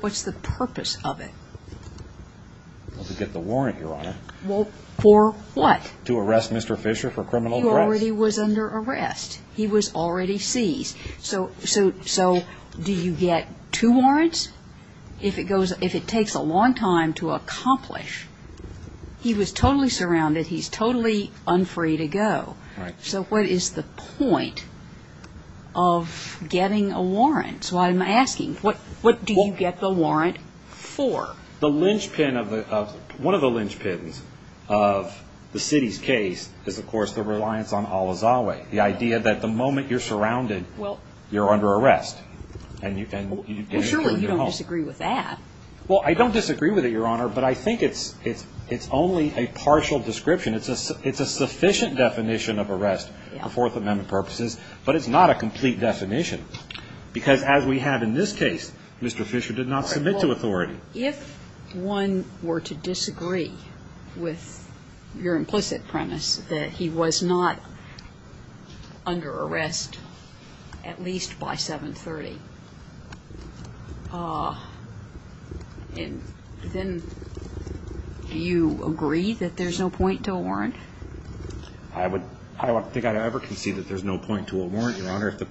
What's the purpose of it? To get the warrant, Your Honor. Well, for what? To arrest Mr. Fisher for criminal threats. He already was under arrest. He was already seized. So do you get two warrants? If it takes a long time to accomplish, he was totally surrounded. He's totally unfree to go. So what is the point of getting a warrant? So I'm asking, what do you get the warrant for? One of the linchpins of the city's case is, of course, the reliance on al-Azawi, the idea that the moment you're surrounded, you're under arrest. Well, surely you don't disagree with that. Well, I don't disagree with it, Your Honor, but I think it's only a partial description. It's a sufficient definition of arrest for Fourth Amendment purposes, but it's not a complete definition because, as we have in this case, Mr. Fisher did not submit to authority. If one were to disagree with your implicit premise that he was not under arrest at least by 730, then do you agree that there's no point to a warrant? I don't think I'd ever concede that there's no point to a warrant, Your Honor. to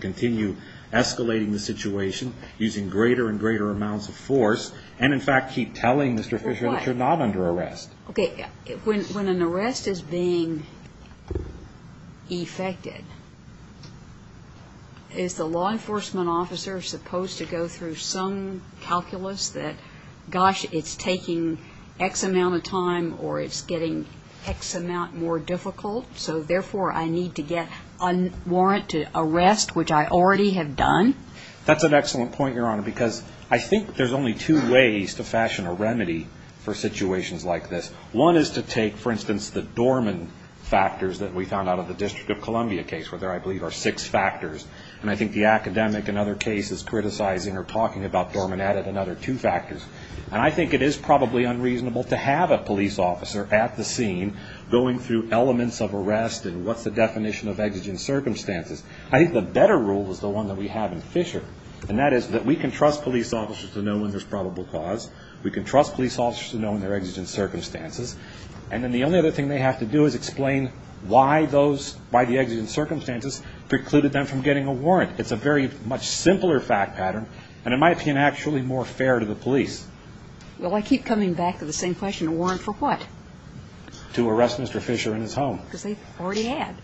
continue escalating the situation using greater and greater amounts of force and, in fact, keep telling Mr. Fisher that you're not under arrest. Okay. When an arrest is being effected, is the law enforcement officer supposed to go through some calculus that, gosh, it's taking X amount of time or it's getting X amount more difficult, so, therefore, I need to get a warrant to arrest, which I already have done? That's an excellent point, Your Honor, because I think there's only two ways to fashion a remedy for situations like this. One is to take, for instance, the Dorman factors that we found out of the District of Columbia case, where there, I believe, are six factors, and I think the academic in other cases criticizing or talking about Dorman added another two factors, and I think it is probably unreasonable to have a police officer at the scene going through elements of arrest and what's the definition of exigent circumstances. I think the better rule is the one that we have in Fisher, and that is that we can trust police officers to know when there's probable cause, we can trust police officers to know when there are exigent circumstances, and then the only other thing they have to do is explain why those, why the exigent circumstances precluded them from getting a warrant. It's a very much simpler fact pattern, and in my opinion, actually more fair to the police. Well, I keep coming back to the same question. Getting a warrant for what? To arrest Mr. Fisher in his home. Because they've already had.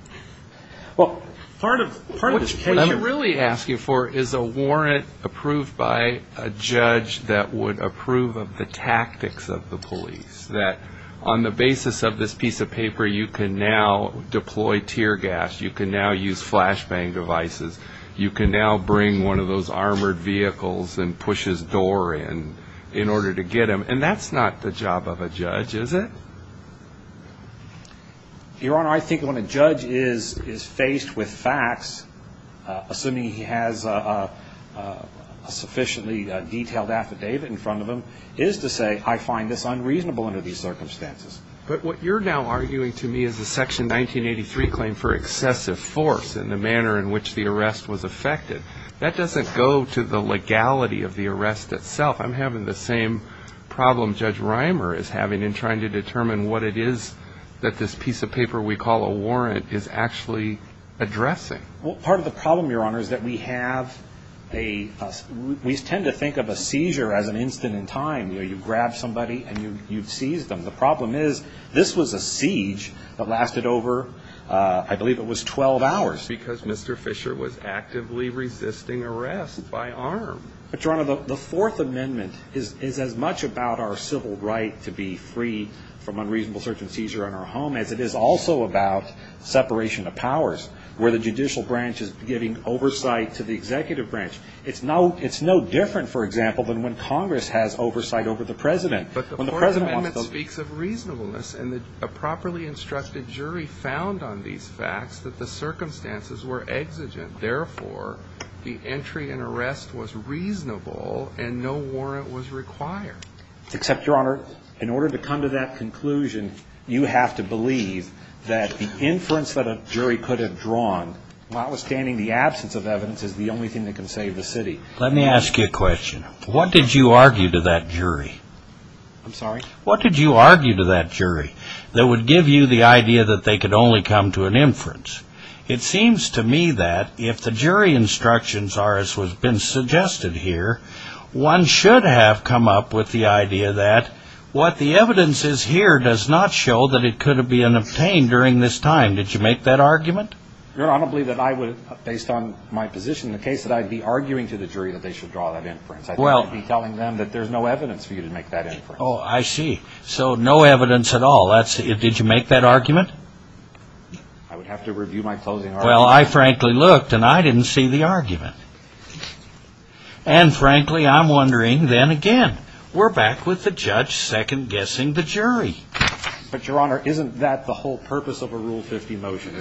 Well, part of this case- What she's really asking for is a warrant approved by a judge that would approve of the tactics of the police, that on the basis of this piece of paper, you can now deploy tear gas, you can now use flashbang devices, you can now bring one of those armored vehicles and push his door in in order to get him, and that's not the job of a judge, is it? Your Honor, I think when a judge is faced with facts, assuming he has a sufficiently detailed affidavit in front of him, is to say, I find this unreasonable under these circumstances. But what you're now arguing to me is the Section 1983 claim for excessive force and the manner in which the arrest was effected. That doesn't go to the legality of the arrest itself. I'm having the same problem Judge Reimer is having in trying to determine what it is that this piece of paper we call a warrant is actually addressing. Well, part of the problem, Your Honor, is that we have a- we tend to think of a seizure as an instant in time. You grab somebody and you seize them. The problem is this was a siege that lasted over, I believe it was 12 hours. Because Mr. Fisher was actively resisting arrest by arm. But, Your Honor, the Fourth Amendment is as much about our civil right to be free from unreasonable search and seizure in our home as it is also about separation of powers, where the judicial branch is giving oversight to the executive branch. It's no different, for example, than when Congress has oversight over the President. But the Fourth Amendment speaks of reasonableness, and a properly instructed jury found on these facts that the circumstances were exigent. Therefore, the entry and arrest was reasonable and no warrant was required. Except, Your Honor, in order to come to that conclusion, you have to believe that the inference that a jury could have drawn, notwithstanding the absence of evidence, is the only thing that can save the city. Let me ask you a question. What did you argue to that jury? I'm sorry? What did you argue to that jury that would give you the idea that they could only come to an inference? It seems to me that if the jury instructions are as has been suggested here, one should have come up with the idea that what the evidence is here does not show that it could have been obtained during this time. Did you make that argument? Your Honor, I don't believe that I would, based on my position in the case, that I'd be arguing to the jury that they should draw that inference. I think I'd be telling them that there's no evidence for you to make that inference. Oh, I see. So, no evidence at all. Did you make that argument? I would have to review my closing argument. Well, I frankly looked, and I didn't see the argument. And, frankly, I'm wondering then again. We're back with the judge second-guessing the jury. But, Your Honor, isn't that the whole purpose of a Rule 50 motion?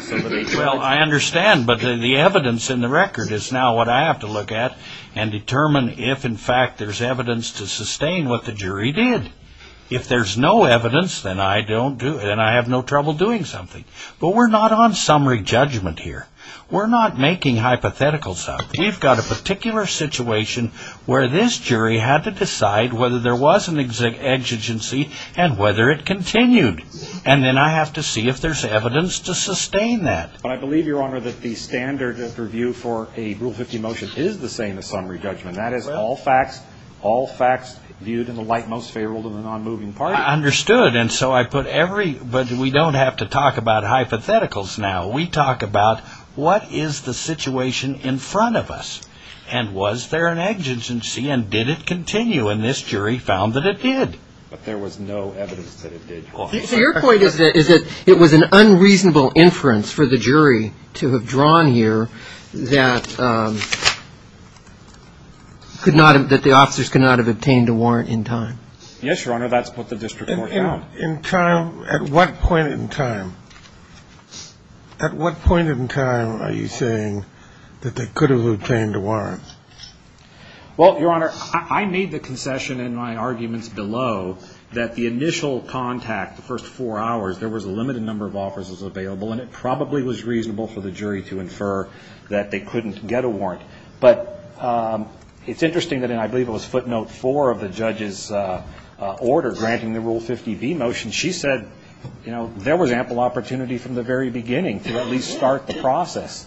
Well, I understand, but the evidence in the record is now what I have to look at and determine if, in fact, there's evidence to sustain what the jury did. If there's no evidence, then I have no trouble doing something. But we're not on summary judgment here. We're not making hypotheticals out there. We've got a particular situation where this jury had to decide whether there was an exigency and whether it continued. And then I have to see if there's evidence to sustain that. But I believe, Your Honor, that the standard of review for a Rule 50 motion is the same as summary judgment. And that is all facts viewed in the light most favorable to the non-moving party. I understood. And so I put every – but we don't have to talk about hypotheticals now. We talk about what is the situation in front of us, and was there an exigency, and did it continue? And this jury found that it did. But there was no evidence that it did. So your point is that it was an unreasonable inference for the jury to have drawn here that the officers could not have obtained a warrant in time? Yes, Your Honor. That's what the district court found. In time, at what point in time? At what point in time are you saying that they could have obtained a warrant? Well, Your Honor, I made the concession in my arguments below that the initial contact, the first four hours, there was a limited number of officers available, and it probably was reasonable for the jury to infer that they couldn't get a warrant. But it's interesting that in, I believe it was footnote four of the judge's order, granting the Rule 50B motion, she said, you know, there was ample opportunity from the very beginning to at least start the process.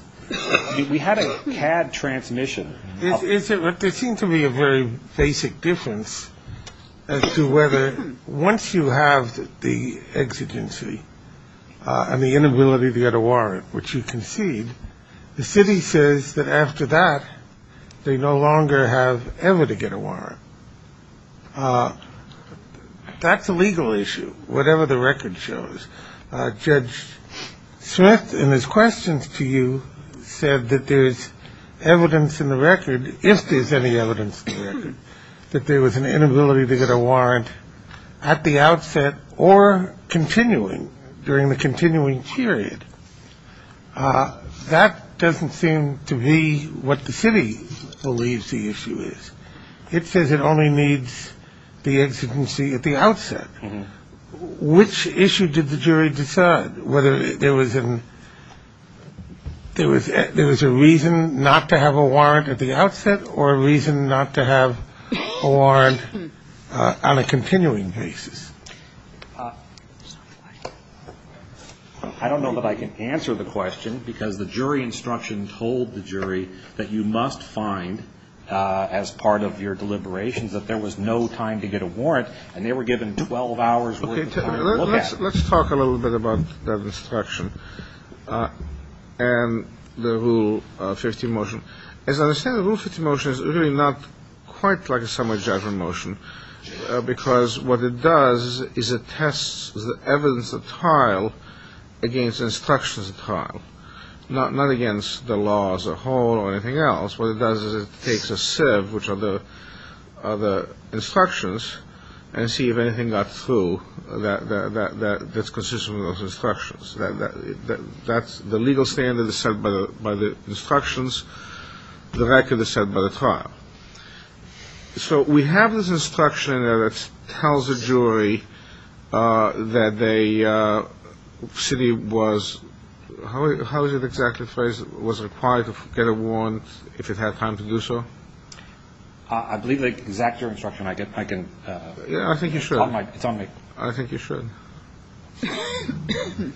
We had a CAD transmission. There seemed to be a very basic difference as to whether once you have the exigency and the inability to get a warrant, which you concede, the city says that after that they no longer have ever to get a warrant. That's a legal issue, whatever the record shows. Judge Smith, in his questions to you, said that there is evidence in the record, if there's any evidence in the record, that there was an inability to get a warrant at the outset or continuing during the continuing period. That doesn't seem to be what the city believes the issue is. It says it only needs the exigency at the outset. Which issue did the jury decide, whether there was a reason not to have a warrant at the outset or a reason not to have a warrant on a continuing basis? I don't know that I can answer the question, because the jury instruction told the jury that you must find, as part of your deliberations, that there was no time to get a warrant, and they were given 12 hours worth of time to look at it. Let's talk a little bit about that instruction and the Rule 50 motion. As I understand, the Rule 50 motion is really not quite like a summary judgment motion, because what it does is it tests the evidence of trial against instructions of trial, not against the law as a whole or anything else. What it does is it takes a sieve, which are the instructions, and see if anything got through that's consistent with those instructions. The legal standard is set by the instructions. The record is set by the trial. So we have this instruction that tells the jury that the city was – how is it exactly phrased – was required to get a warrant if it had time to do so? I believe the exact jury instruction I can – I think you should. It's on me. I think you should. Thank you.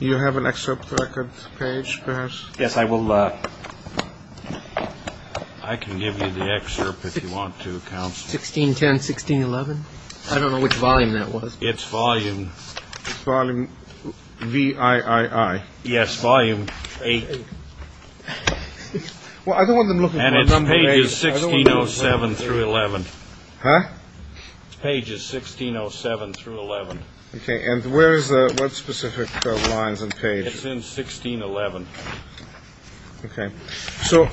Do you have an excerpt of the record page, perhaps? Yes, I will. I can give you the excerpt if you want to, counsel. 1610, 1611? I don't know which volume that was. It's volume. Volume VIII. Yes, volume VIII. Well, I don't want them looking for a number eight. And it's pages 1607 through 11. Huh? Pages 1607 through 11. Okay. And where is the – what specific lines and page? It's in 1611. Okay. So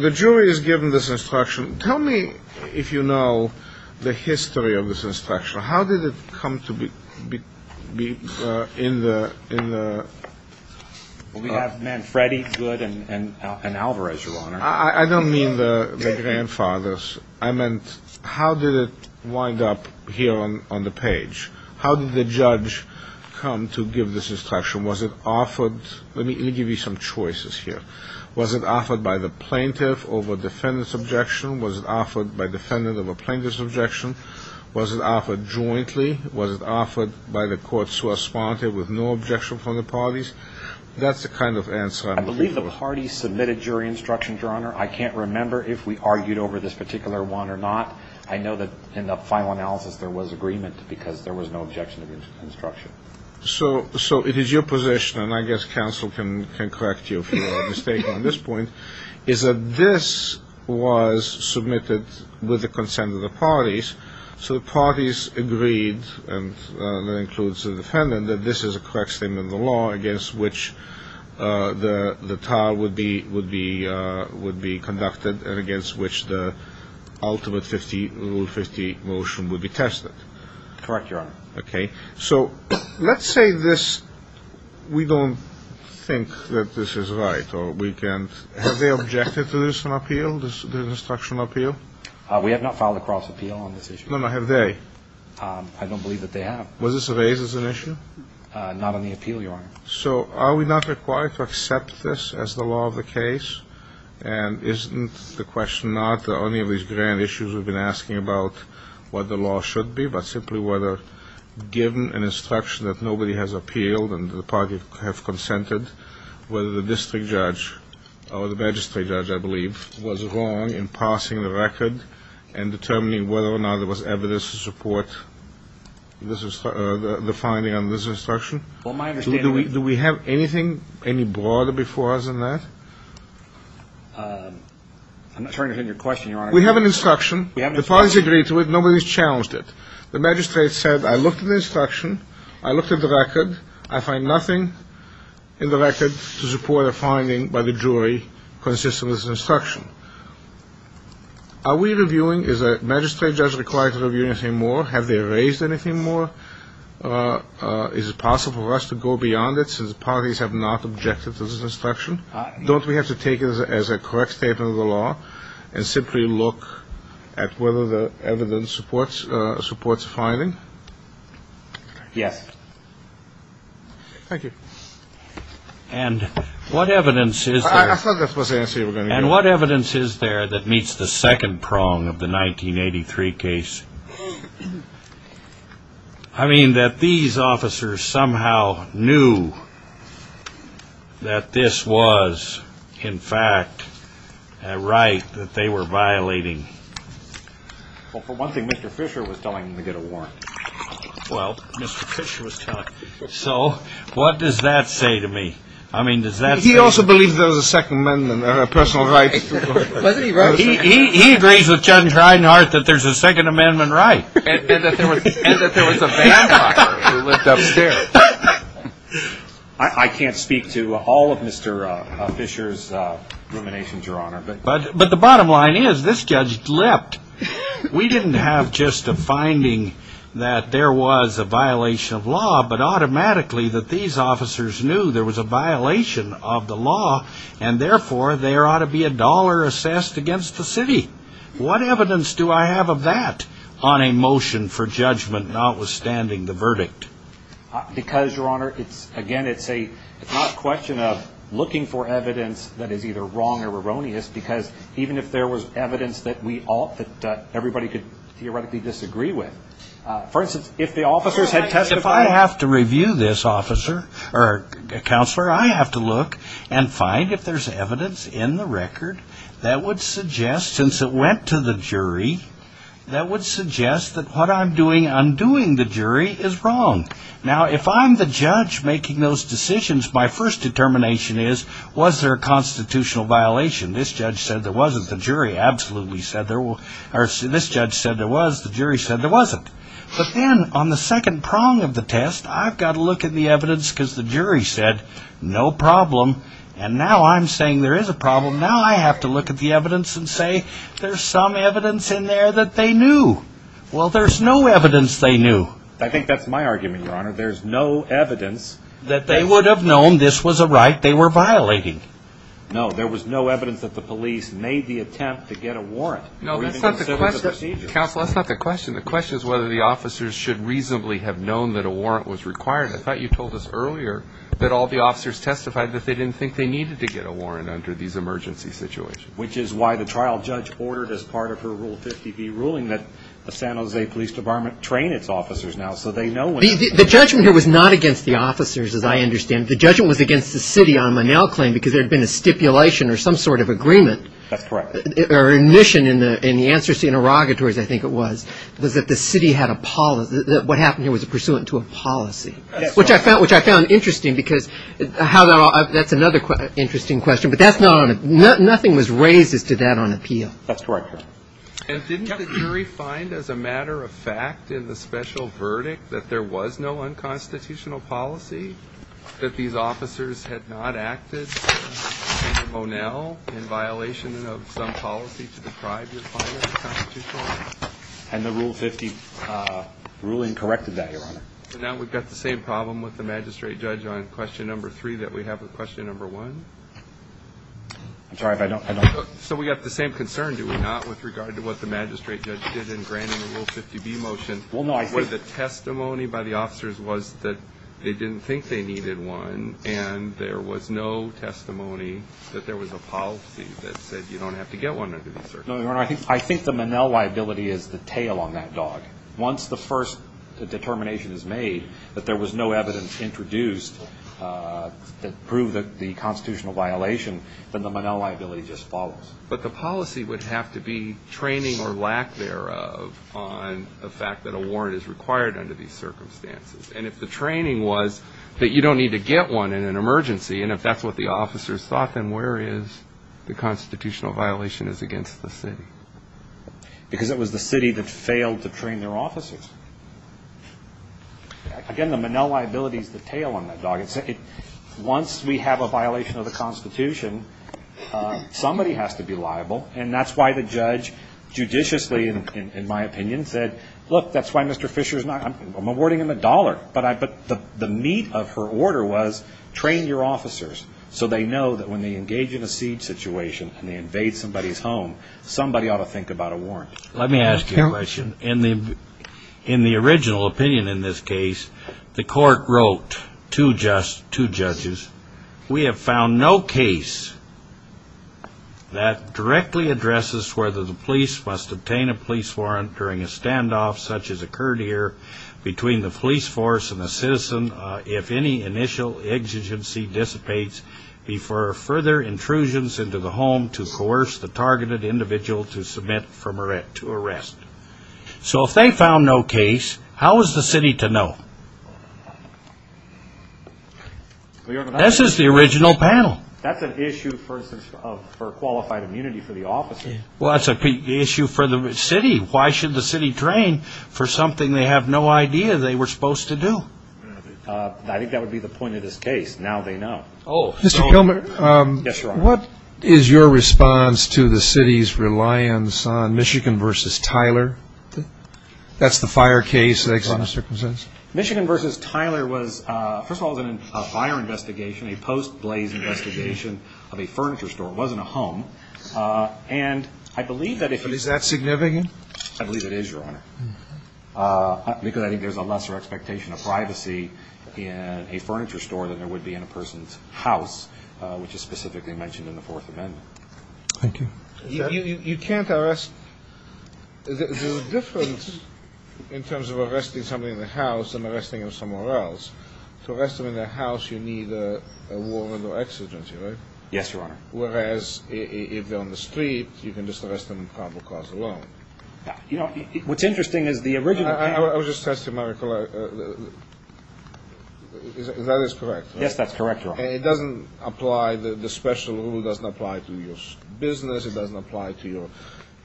the jury is given this instruction. Tell me if you know the history of this instruction. How did it come to be in the – We have Manfredi, Goode, and Alvarez, Your Honor. I don't mean the grandfathers. I meant how did it wind up here on the page? How did the judge come to give this instruction? Was it offered – let me give you some choices here. Was it offered by the plaintiff over defendant's objection? Was it offered by defendant over plaintiff's objection? Was it offered jointly? Was it offered by the courts who are sponsored with no objection from the parties? That's the kind of answer I'm looking for. I believe the parties submitted jury instruction, Your Honor. I can't remember if we argued over this particular one or not. I know that in the final analysis there was agreement because there was no objection to the instruction. So it is your position, and I guess counsel can correct you if you are mistaken on this point, is that this was submitted with the consent of the parties, so the parties agreed, and that includes the defendant, and that this is a correct statement of the law against which the trial would be conducted and against which the ultimate Rule 50 motion would be tested? Correct, Your Honor. Okay. So let's say this – we don't think that this is right, or we can't – have they objected to this appeal, this instruction appeal? We have not filed a cross appeal on this issue. No, no, have they? I don't believe that they have. Was this raised as an issue? Not on the appeal, Your Honor. So are we not required to accept this as the law of the case? And isn't the question not that any of these grand issues we've been asking about what the law should be, but simply whether given an instruction that nobody has appealed and the parties have consented, whether the district judge or the magistrate judge, I believe, in passing the record and determining whether or not there was evidence to support the finding on this instruction? Do we have anything any broader before us in that? I'm not sure I understand your question, Your Honor. We have an instruction. We have an instruction. The parties agreed to it. Nobody's challenged it. The magistrate said, I looked at the instruction, I looked at the record, I find nothing in the record to support a finding by the jury consistent with this instruction. Are we reviewing, is a magistrate judge required to review anything more? Have they raised anything more? Is it possible for us to go beyond it since the parties have not objected to this instruction? Don't we have to take it as a correct statement of the law and simply look at whether the evidence supports a finding? Yes. Thank you. And what evidence is there that meets the second prong of the 1983 case? I mean that these officers somehow knew that this was, in fact, a right that they were violating. Well, for one thing, Mr. Fisher was telling them to get a warrant. Well, Mr. Fisher was telling them. So what does that say to me? I mean, does that say? He also believes there was a Second Amendment, personal rights. He agrees with Judge Reinhardt that there's a Second Amendment right. And that there was a vampire who lived upstairs. I can't speak to all of Mr. Fisher's ruminations, Your Honor. But the bottom line is this judge leapt. We didn't have just a finding that there was a violation of law, but automatically that these officers knew there was a violation of the law, and therefore there ought to be a dollar assessed against the city. What evidence do I have of that on a motion for judgment notwithstanding the verdict? Because, Your Honor, again, it's not a question of looking for evidence that is either wrong or erroneous, because even if there was evidence that everybody could theoretically disagree with, for instance, if the officers had testified. If I have to review this, counselor, I have to look and find if there's evidence in the record that would suggest, since it went to the jury, that would suggest that what I'm doing undoing the jury is wrong. Now, if I'm the judge making those decisions, my first determination is, was there a constitutional violation? This judge said there wasn't. The jury absolutely said there was. This judge said there was. The jury said there wasn't. But then on the second prong of the test, I've got to look at the evidence because the jury said no problem, and now I'm saying there is a problem. Now I have to look at the evidence and say there's some evidence in there that they knew. Well, there's no evidence they knew. I think that's my argument, Your Honor. There's no evidence that they would have known this was a right they were violating. No, there was no evidence that the police made the attempt to get a warrant. No, that's not the question. Counsel, that's not the question. The question is whether the officers should reasonably have known that a warrant was required. I thought you told us earlier that all the officers testified that they didn't think they needed to get a warrant under these emergency situations. Which is why the trial judge ordered as part of her Rule 50B ruling that the San Jose Police Department train its officers now so they know when to do it. The judgment here was not against the officers, as I understand. The judgment was against the city on Manel's claim because there had been a stipulation or some sort of agreement. That's correct. Or admission in the answers to interrogatories, I think it was, was that the city had a policy. What happened here was pursuant to a policy. That's correct. Which I found interesting because that's another interesting question. But that's not on appeal. Nothing was raised as to that on appeal. That's correct, Your Honor. And didn't the jury find as a matter of fact in the special verdict that there was no unconstitutional policy? That these officers had not acted in Manel in violation of some policy to deprive your client of constitutional rights? And the Rule 50 ruling corrected that, Your Honor. So now we've got the same problem with the magistrate judge on question number three that we have with question number one? I'm sorry, but I don't. So we've got the same concern, do we not, with regard to what the magistrate judge did in granting the Rule 50B motion? Well, no, I think the testimony by the officers was that they didn't think they needed one, and there was no testimony that there was a policy that said you don't have to get one under these circumstances. No, Your Honor, I think the Manel liability is the tail on that dog. Once the first determination is made that there was no evidence introduced that proved the constitutional violation, then the Manel liability just follows. But the policy would have to be training or lack thereof on the fact that a warrant is required under these circumstances. And if the training was that you don't need to get one in an emergency, and if that's what the officers thought, then where is the constitutional violation is against the city? Because it was the city that failed to train their officers. Again, the Manel liability is the tail on that dog. Once we have a violation of the Constitution, somebody has to be liable, and that's why the judge judiciously, in my opinion, said, look, that's why Mr. Fisher is not going to award him a dollar. But the meat of her order was train your officers so they know that when they engage in a siege situation and they invade somebody's home, somebody ought to think about a warrant. Let me ask you a question. In the original opinion in this case, the court wrote to judges, we have found no case that directly addresses whether the police must obtain a police warrant during a standoff such as occurred here between the police force and the citizen if any initial exigency dissipates before further intrusions into the home to coerce the targeted individual to submit to arrest. So if they found no case, how is the city to know? This is the original panel. That's an issue, for instance, for qualified immunity for the officers. Well, that's an issue for the city. Why should the city train for something they have no idea they were supposed to do? I think that would be the point of this case. Now they know. Mr. Kilmer. Yes, Your Honor. What is your response to the city's reliance on Michigan v. Tyler? That's the fire case. Michigan v. Tyler was, first of all, a fire investigation, a post-blaze investigation of a furniture store. It wasn't a home. Is that significant? I believe it is, Your Honor. Because I think there's a lesser expectation of privacy in a furniture store than there would be in a person's house, which is specifically mentioned in the Fourth Amendment. Thank you. You can't arrest the difference in terms of arresting somebody in the house than arresting them somewhere else. To arrest them in the house, you need a warrant or exigency, right? Yes, Your Honor. Whereas if they're on the street, you can just arrest them in probable cause alone. You know, what's interesting is the original case. I was just testing my recollection. That is correct, right? Yes, that's correct, Your Honor. It doesn't apply, the special rule doesn't apply to your business, it doesn't apply to your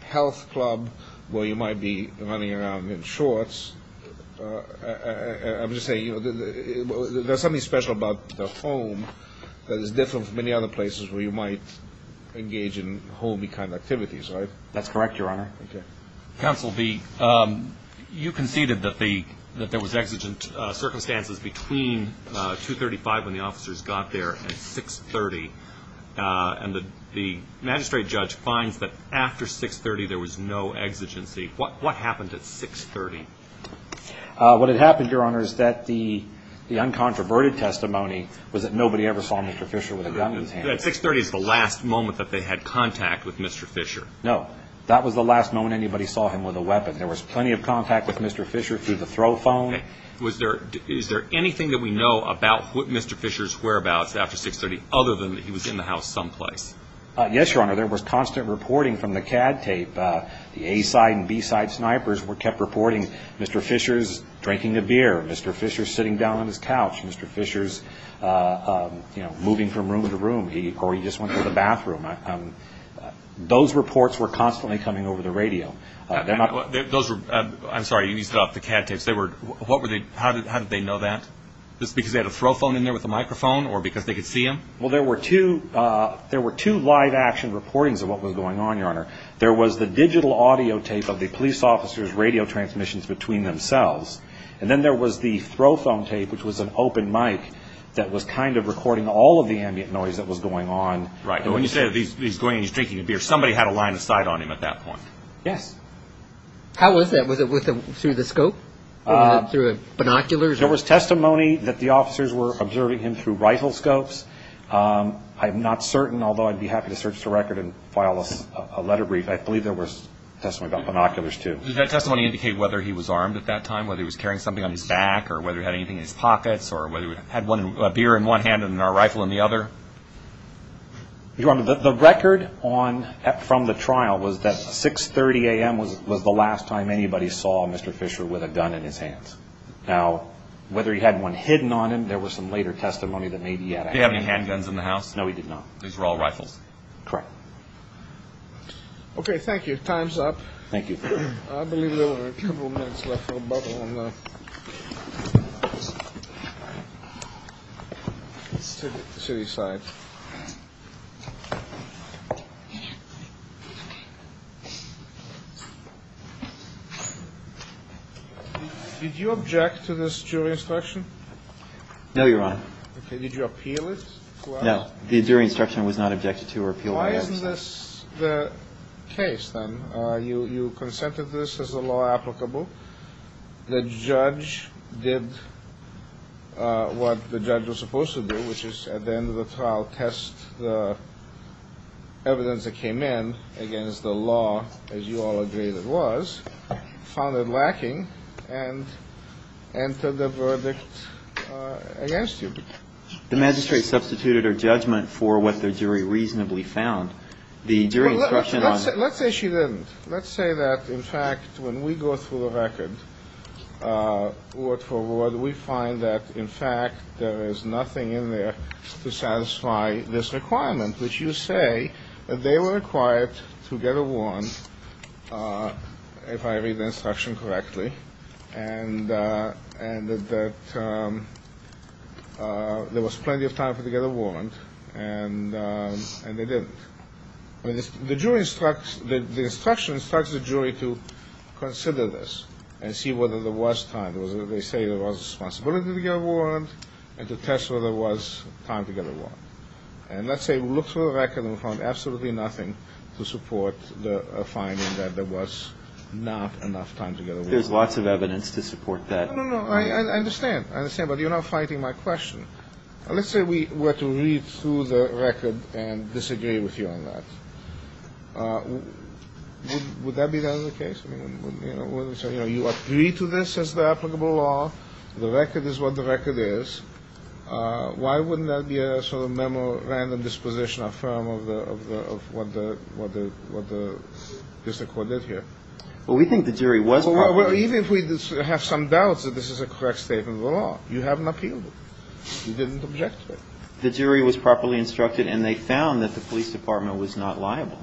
health club where you might be running around in shorts. I'm just saying, you know, there's something special about the home that is different from many other places where you might engage in homey kind of activities, right? That's correct, Your Honor. Thank you. Counsel, you conceded that there was exigent circumstances between 235 when the officers got there and 630, and the magistrate judge finds that after 630 there was no exigency. What happened at 630? What had happened, Your Honor, is that the uncontroverted testimony was that nobody ever saw Mr. Fisher with a gun in his hands. 630 is the last moment that they had contact with Mr. Fisher. No, that was the last moment anybody saw him with a weapon. There was plenty of contact with Mr. Fisher through the throw phone. Is there anything that we know about what Mr. Fisher's whereabouts after 630, other than that he was in the house someplace? Yes, Your Honor, there was constant reporting from the CAD tape. The A-side and B-side snipers kept reporting Mr. Fisher's drinking a beer, Mr. Fisher's sitting down on his couch, Mr. Fisher's moving from room to room, or he just went to the bathroom. Those reports were constantly coming over the radio. I'm sorry, you need to stop. The CAD tapes, how did they know that? Just because they had a throw phone in there with a microphone, or because they could see him? Well, there were two live action reportings of what was going on, Your Honor. There was the digital audio tape of the police officers' radio transmissions between themselves, and then there was the throw phone tape, which was an open mic that was kind of recording all of the ambient noise that was going on. Right, but when you say he's going and he's drinking a beer, somebody had a line of sight on him at that point. Yes. How was that? Was it through the scope, through binoculars? There was testimony that the officers were observing him through rifle scopes. I'm not certain, although I'd be happy to search the record and file a letter brief. I believe there was testimony about binoculars, too. Did that testimony indicate whether he was armed at that time, whether he was carrying something on his back, or whether he had anything in his pockets, or whether he had a beer in one hand and a rifle in the other? Your Honor, the record from the trial was that 6.30 a.m. was the last time anybody saw Mr. Fisher with a gun in his hands. Now, whether he had one hidden on him, there was some later testimony that maybe he had a handgun. Did he have any handguns in the house? No, he did not. These were all rifles? Correct. Okay, thank you. Time's up. Thank you. I believe there were a couple minutes left for a bubble on the city side. Did you object to this jury instruction? No, Your Honor. Okay, did you appeal it? No. The jury instruction was not objected to or appealed by us. Why isn't this the case, then? You consented to this as a law applicable. The judge did what the judge was supposed to do, which is at the end of the trial test the evidence that came in against the law, as you all agreed it was, found it lacking, and entered the verdict against you. The magistrate substituted her judgment for what the jury reasonably found. Let's say she didn't. Let's say that, in fact, when we go through the record, word for word, we find that, in fact, there is nothing in there to satisfy this requirement, which you say that they were required to get a warrant, if I read the instruction correctly, and that there was plenty of time for them to get a warrant, and they didn't. The jury instructs, the instruction instructs the jury to consider this and see whether there was time. They say there was responsibility to get a warrant and to test whether there was time to get a warrant. And let's say we look through the record and we found absolutely nothing to support the finding that there was not enough time to get a warrant. There's lots of evidence to support that. No, no, no, I understand. I understand, but you're not fighting my question. Let's say we were to read through the record and disagree with you on that. Would that be the other case? You know, you agree to this as the applicable law. The record is what the record is. Why wouldn't that be a sort of memo, random disposition, a firm of what the district court did here? Well, we think the jury was part of it. Even if we have some doubts that this is a correct statement of the law, you haven't appealed it. You didn't object to it. The jury was properly instructed and they found that the police department was not liable.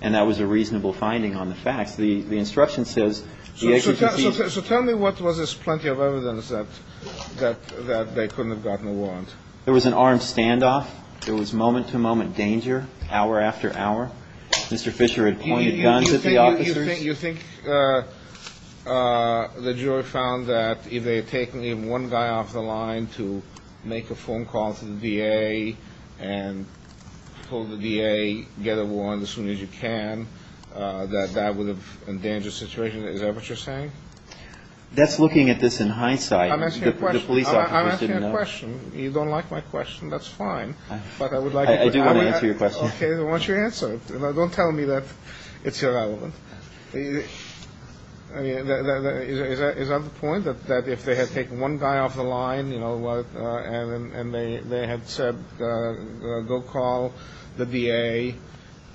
And that was a reasonable finding on the facts. The instruction says the agency... So tell me what was this plenty of evidence that they couldn't have gotten a warrant. There was an armed standoff. There was moment-to-moment danger, hour after hour. Mr. Fisher had pointed guns at the officers. You think the jury found that if they had taken one guy off the line to make a phone call to the DA and told the DA, get a warrant as soon as you can, that that would have endangered the situation? Is that what you're saying? That's looking at this in hindsight. I'm asking a question. The police officers didn't know. I'm asking a question. You don't like my question. That's fine. But I would like... I do want to answer your question. Okay. So why don't you answer it? Don't tell me that it's irrelevant. I mean, is that the point, that if they had taken one guy off the line, you know, and they had said, go call the DA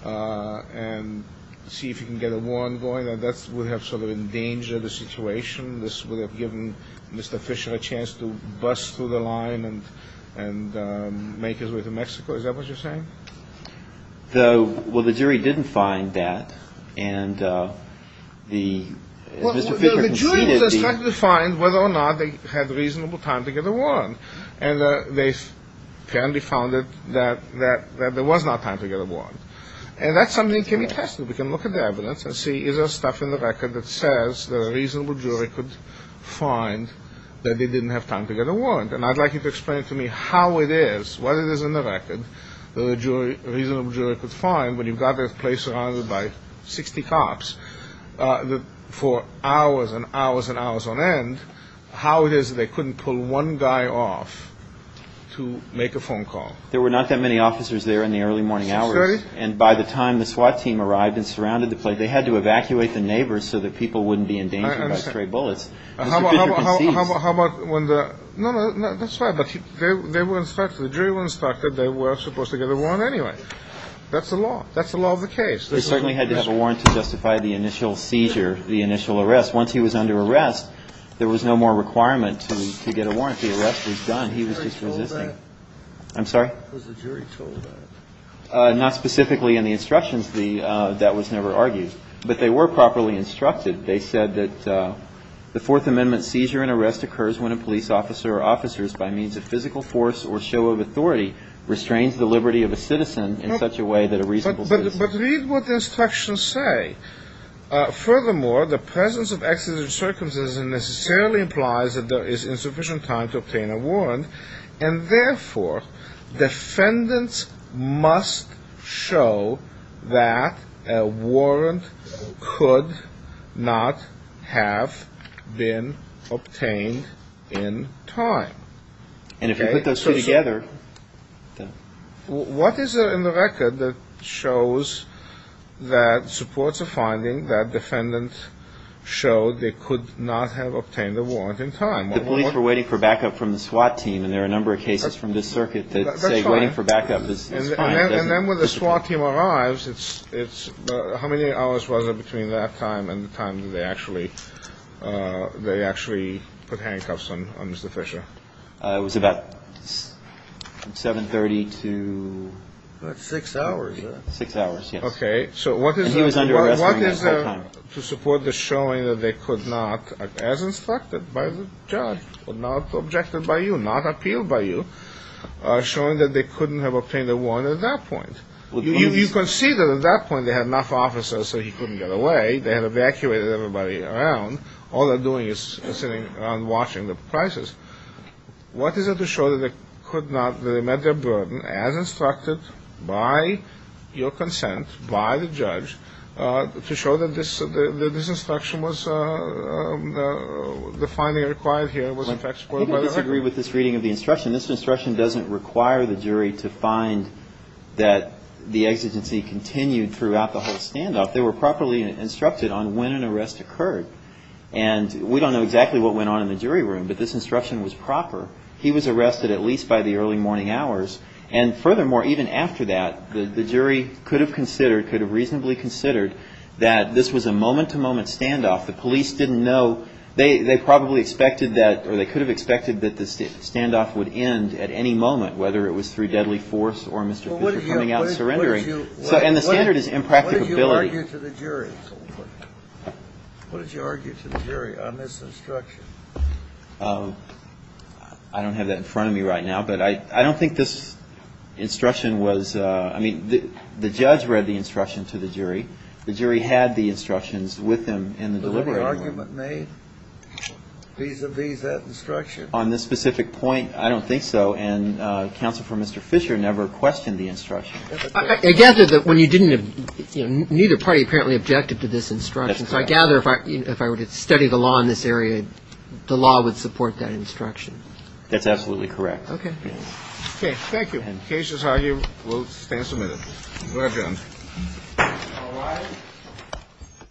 and see if you can get a warrant going, that that would have sort of endangered the situation? This would have given Mr. Fisher a chance to bust through the line and make his way to Mexico? Is that what you're saying? Well, the jury didn't find that, and Mr. Fisher conceded the... Well, the jury was trying to find whether or not they had reasonable time to get a warrant, and they apparently found that there was not time to get a warrant. And that's something that can be tested. We can look at the evidence and see is there stuff in the record that says that a reasonable jury could find that they didn't have time to get a warrant. And I'd like you to explain to me how it is, what it is in the record that a reasonable jury could find when you've got this place surrounded by 60 cops for hours and hours and hours on end, how it is that they couldn't pull one guy off to make a phone call. There were not that many officers there in the early morning hours. And by the time the SWAT team arrived and surrounded the place, they had to evacuate the neighbors so that people wouldn't be endangered by stray bullets. Mr. Fisher concedes. How about when the... No, no, that's fine. But they were inspected. The jury were inspected. They were supposed to get a warrant anyway. That's the law. That's the law of the case. They certainly had to have a warrant to justify the initial seizure, the initial arrest. Once he was under arrest, there was no more requirement to get a warrant. The arrest was done. He was just resisting. Was the jury told that? I'm sorry? Was the jury told that? Not specifically in the instructions. That was never argued. But they were properly instructed. They said that the Fourth Amendment seizure and arrest occurs when a police officer or officers by means of physical force or show of authority restrains the liberty of a citizen in such a way that a reasonable citizen... But read what the instructions say. Furthermore, the presence of excessive circumcision necessarily implies that there is insufficient time to obtain a warrant. And therefore, defendants must show that a warrant could not have been obtained in time. And if you put those two together... What is in the record that shows that supports a finding that defendants showed they could not have obtained a warrant in time? The police were waiting for backup from the SWAT team, and there are a number of cases from this circuit that say waiting for backup is fine. And then when the SWAT team arrives, how many hours was it between that time and the time that they actually put handcuffs on Mr. Fisher? It was about 7.30 to... Six hours. Six hours, yes. Okay. And he was under arrest during that time. To support the showing that they could not, as instructed by the judge, not objected by you, not appealed by you, showing that they couldn't have obtained a warrant at that point. You can see that at that point they had enough officers so he couldn't get away. They had evacuated everybody around. All they're doing is sitting around watching the prices. What is it to show that they met their burden as instructed by your consent, by the judge, to show that this instruction was the finding required here, was in fact supported by the record? You can disagree with this reading of the instruction. This instruction doesn't require the jury to find that the exigency continued throughout the whole standoff. They were properly instructed on when an arrest occurred. And we don't know exactly what went on in the jury room, but this instruction was proper. He was arrested at least by the early morning hours. And furthermore, even after that, the jury could have considered, could have reasonably considered, that this was a moment-to-moment standoff. The police didn't know. They probably expected that or they could have expected that the standoff would end at any moment, whether it was through deadly force or Mr. Fisher coming out and surrendering. And the standard is impracticability. What did you argue to the jury? What did you argue to the jury on this instruction? I don't have that in front of me right now. But I don't think this instruction was, I mean, the judge read the instruction to the jury. The jury had the instructions with them in the delivery room. Was there an argument made vis-à-vis that instruction? On this specific point, I don't think so. And counsel for Mr. Fisher never questioned the instruction. I gather that when you didn't, you know, neither party apparently objected to this instruction. So I gather if I were to study the law in this area, the law would support that instruction. That's absolutely correct. Okay. Okay. Thank you. The case is argued. We'll stand submitted. Go ahead, Jones. All rise.